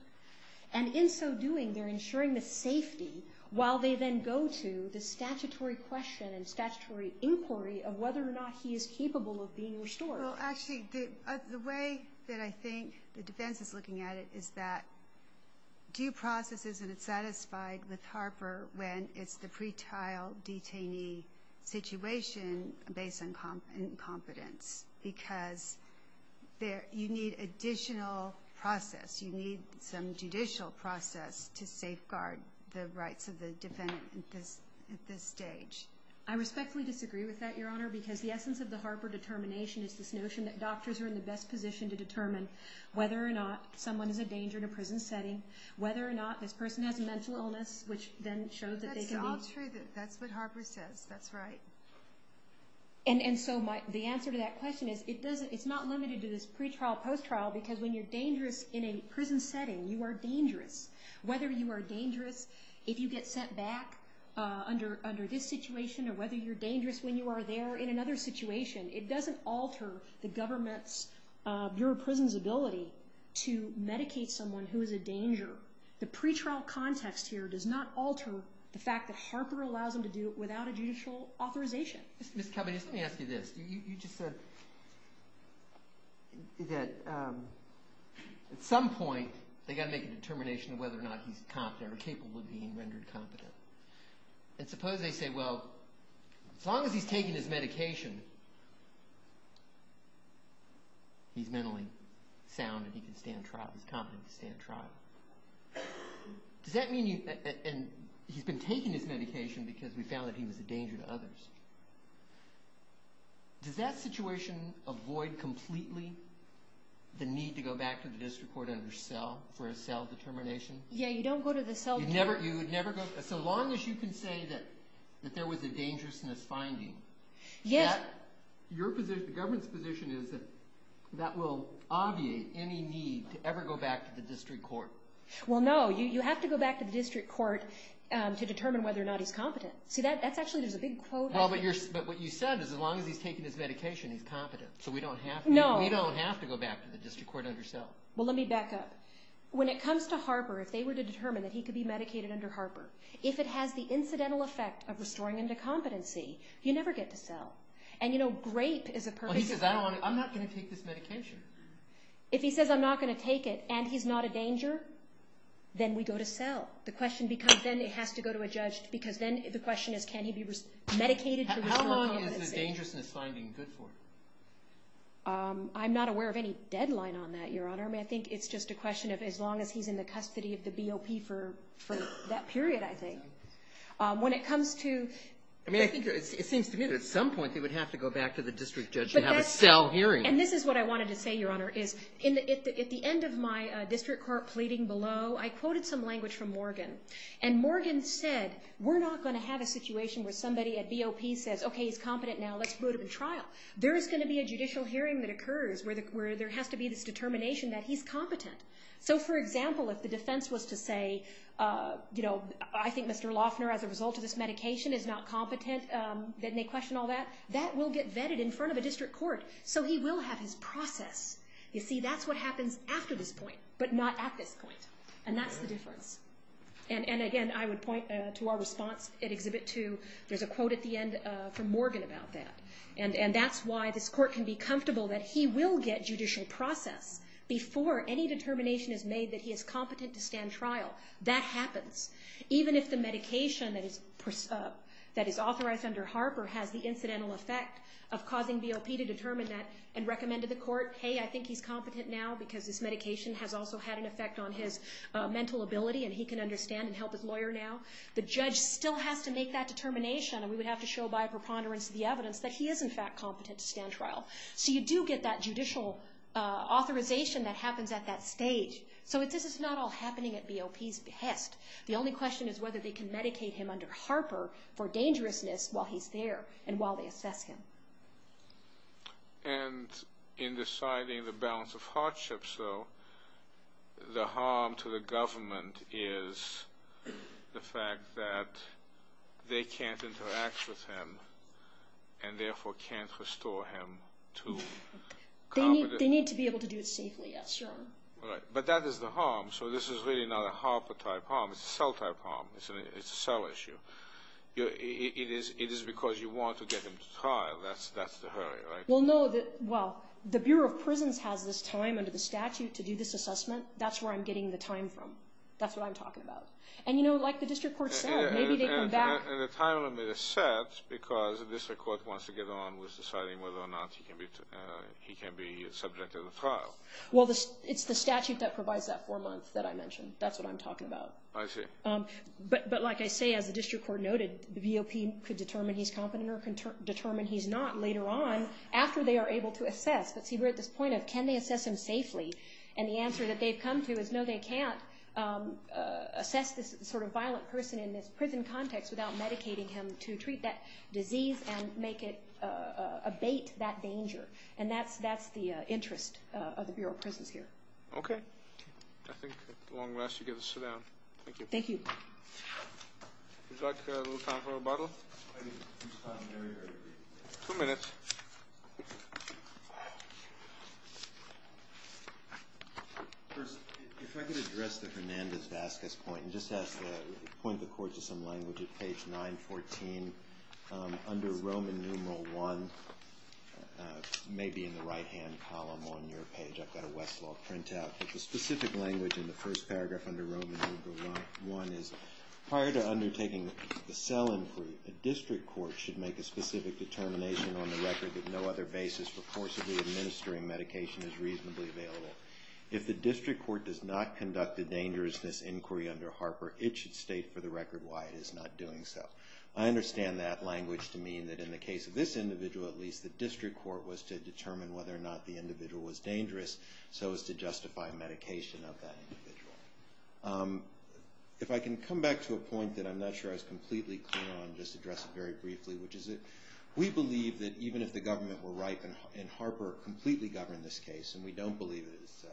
And in so doing, they're ensuring the safety while they then go to the statutory question and statutory inquiry of whether or not he is capable of being restored. Well, actually, the way that I think the defense is looking at it is that due process isn't satisfied with Harper when it's the pretrial detainee situation based on incompetence because you need additional process. You need some judicial process to safeguard the rights of the defendant at this stage. I respectfully disagree with that, Your Honor, because the essence of the Harper determination is this notion that doctors are in the best position to determine whether or not someone is a danger in a prison setting, whether or not this person has a mental illness, which then shows that they can be – That's true. That's what Harper says. That's right. And so the answer to that question is it's not limited to this pretrial post-trial because when you're dangerous in a prison setting, you are dangerous. Whether you are dangerous if you get sent back under this situation or whether you're dangerous when you are there in another situation, it doesn't alter the government's, your prison's ability to medicate someone who is a danger. The pretrial context here does not alter the fact that Harper allows them to do it without a judicial authorization. Let me ask you this. You just said that at some point they've got to make a determination of whether or not he's competent or capable of being rendered competent. And suppose they say, well, as long as he's taking his medication, he's mentally sound and he can stand trial. He's competent to stand trial. Does that mean he's – and he's been taking his medication because he found that he was a danger to others. Does that situation avoid completely the need to go back to the district court for a cell determination? Yeah, you don't go to the cell – As long as you can say that there was a dangerousness finding, your position, the government's position is that that will obviate any need to ever go back to the district court. Well, no. You have to go back to the district court to determine whether or not he's competent. See, that's actually a big quote. Well, but what you said is as long as he's taking his medication, he's competent. So we don't have to go back to the district court under cell. Well, let me back up. When it comes to Harper, if they were to determine that he could be medicated under Harper, if it has the incidental effect of restoring him to competency, you never get to cell. And, you know, grape is a perfect example. I'm not going to take this medication. If he says, I'm not going to take it, and he's not a danger, then we go to cell. The question becomes then it has to go to a judge because then the question is can he be medicated to this level. How long is the dangerousness finding good for? I'm not aware of any deadline on that, Your Honor. I mean, I think it's just a question of as long as he's in the custody of the BOP for that period, I think. When it comes to... I mean, it seems to me that at some point they would have to go back to the district judge to have a cell hearing. And this is what I wanted to say, Your Honor, is at the end of my district court pleading below, I quoted some language from Morgan. And Morgan said, we're not going to have a situation where somebody at BOP says, okay, he's competent now, let's go to the trial. There's going to be a judicial hearing that occurs where there has to be this determination that he's competent. So, for example, if the defense was to say, you know, I think Mr. Loeffner, as a result of this medication, is not competent, then they question all that, that will get vetted in front of the district court. So he will have his process. You see, that's what happens after this point but not at this point. And that's the difference. And, again, I would point to our response at Exhibit 2. There's a quote at the end from Morgan about that. And that's why this court can be comfortable that he will get judicial process before any determination is made that he is competent to stand trial. That happens. Even if the medication that is authorized under Harper has the incidental effect of causing BOP to determine that and recommend to the court, hey, I think he's competent now because this medication has also had an effect on his mental ability and he can understand and help his lawyer now, the judge still has to make that determination. And we would have to show by a preponderance of the evidence that he is, in fact, competent to stand trial. So you do get that judicial authorization that happens at that stage. So this is not all happening at BOP's behest. The only question is whether they can medicate him under Harper for dangerousness while he's there and while they assess him. And in deciding the balance of hardship. So the harm to the government is the fact that they can't interact with him and, therefore, can't restore him to competence. They need to be able to do it safely, yes, sure. Right. But that is the harm. So this is really not a Harper-type harm. It's a cell-type harm. It's a cell issue. It is because you want to get him to trial. That's the hurry, right? Well, no. Well, the Bureau of Prisons has this time under the statute to do this assessment. That's where I'm getting the time from. That's what I'm talking about. And, you know, like the district court said, maybe they can back… And the time limit is set because the district court wants to get on with deciding whether or not he can be subject to the trial. Well, it's the statute that provides that four months that I mentioned. That's what I'm talking about. I see. But, like I say, as the district court noted, the VOP could determine he's competent or determine he's not later on after they are able to assess. But, see, we're at this point of can they assess him safely? And the answer that they've come to is no, they can't assess this sort of violent person in this prison context without medicating him to treat that disease and make it abate that danger. And that's the interest of the Bureau of Prisons here. Okay. I think that's the long answer you gave us today. Thank you. Thank you. Would you like to have a little time for rebuttal? Two minutes. First, if I could address the Fernandez-Vasquez point and just point the court to some language at page 914. Under Roman numeral I, maybe in the right-hand column on your page, I've got a Westlaw printout. But the specific language in the first paragraph under Roman numeral I is, Prior to undertaking a cell inquiry, the district court should make a specific determination on the record that no other basis for forcibly administering medication is reasonably available. If the district court does not conduct a dangerousness inquiry under Harper, it should state for the record why it is not doing so. I understand that language to mean that in the case of this individual, at least, the district court was to determine whether or not the individual was dangerous so as to justify medication of that individual. If I can come back to a point that I'm not sure I was completely clear on and just address it very briefly, which is that we believe that even if the government were right and Harper completely governed this case, and we don't believe it is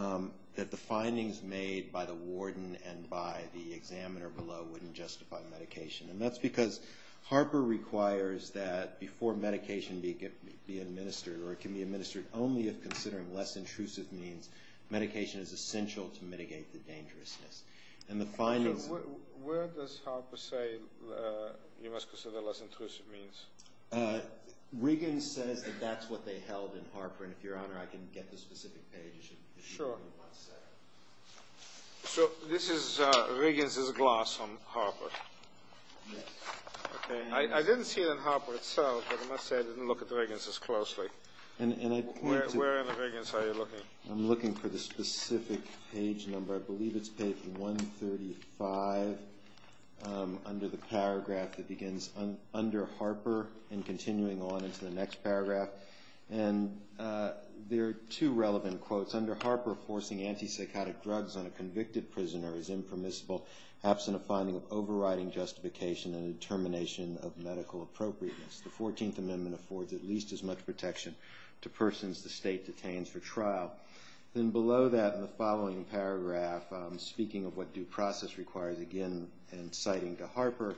so, that the findings made by the warden and by the examiner below wouldn't justify medication. And that's because Harper requires that before medication can be administered, or can be administered only if considered a less intrusive means, medication is essential to mitigate the dangerousness. And the finding... Where does Harper say you must consider less intrusive means? Regan said that that's what they held in Harper. And if Your Honor, I can get the specific pages. Sure. So this is Regan's gloss on Harper. I didn't see it in Harper itself, but I must say I didn't look at Regan's as closely. And I... Where in Regan's are you looking? I'm looking for the specific page number. I believe it's page 135 under the paragraph that begins under Harper and continuing on into the next paragraph. And there are two relevant quotes. Under Harper, forcing antipsychotic drugs on a convicted prisoner is impermissible, absent a finding of overriding justification and determination of medical appropriateness. The 14th Amendment affords at least as much protection to persons the state detains for trial. Then below that in the following paragraph, speaking of what due process requires again and citing to Harper,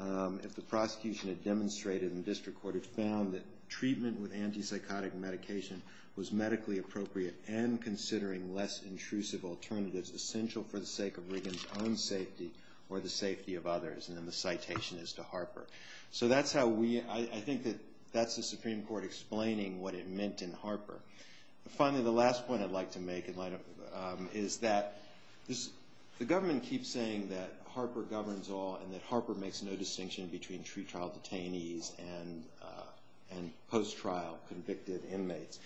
if the prosecution had demonstrated and the district court had found that treatment with antipsychotic medication was medically appropriate and considering less intrusive alternatives essential for the sake of Regan's own safety or the safety of others. And then the citation is to Harper. So that's how we... I think that that's the Supreme Court explaining what it meant in Harper. Finally, the last point I'd like to make is that the government keeps saying that Harper governs all and that Harper makes no distinction between pre-trial detainees and post-trial convicted inmates.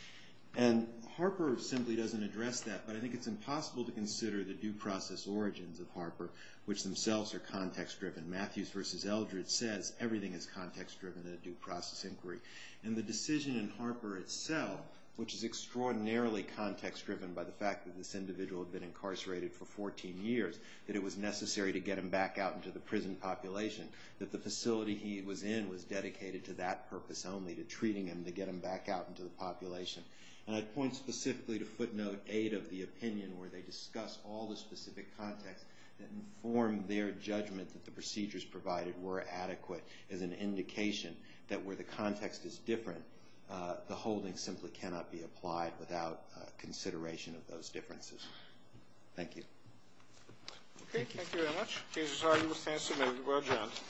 And Harper simply doesn't address that. But I think it's impossible to consider the due process origins of Harper, which themselves are context-driven. Matthews versus Eldred said everything is context-driven in a due process inquiry. And the decision in Harper itself, which is extraordinarily context-driven by the fact that this individual had been incarcerated for 14 years, that it was necessary to get him back out into the prison population, that the facility he was in was dedicated to that purpose only, to treating him, to get him back out into the population. And I'd point specifically to footnote 8 of the opinion, where they discuss all the specific context and form their judgment that the procedures provided were adequate as an indication that where the context is different, the holding simply cannot be applied without consideration of those differences. Thank you. Okay. Thank you very much. Thank you.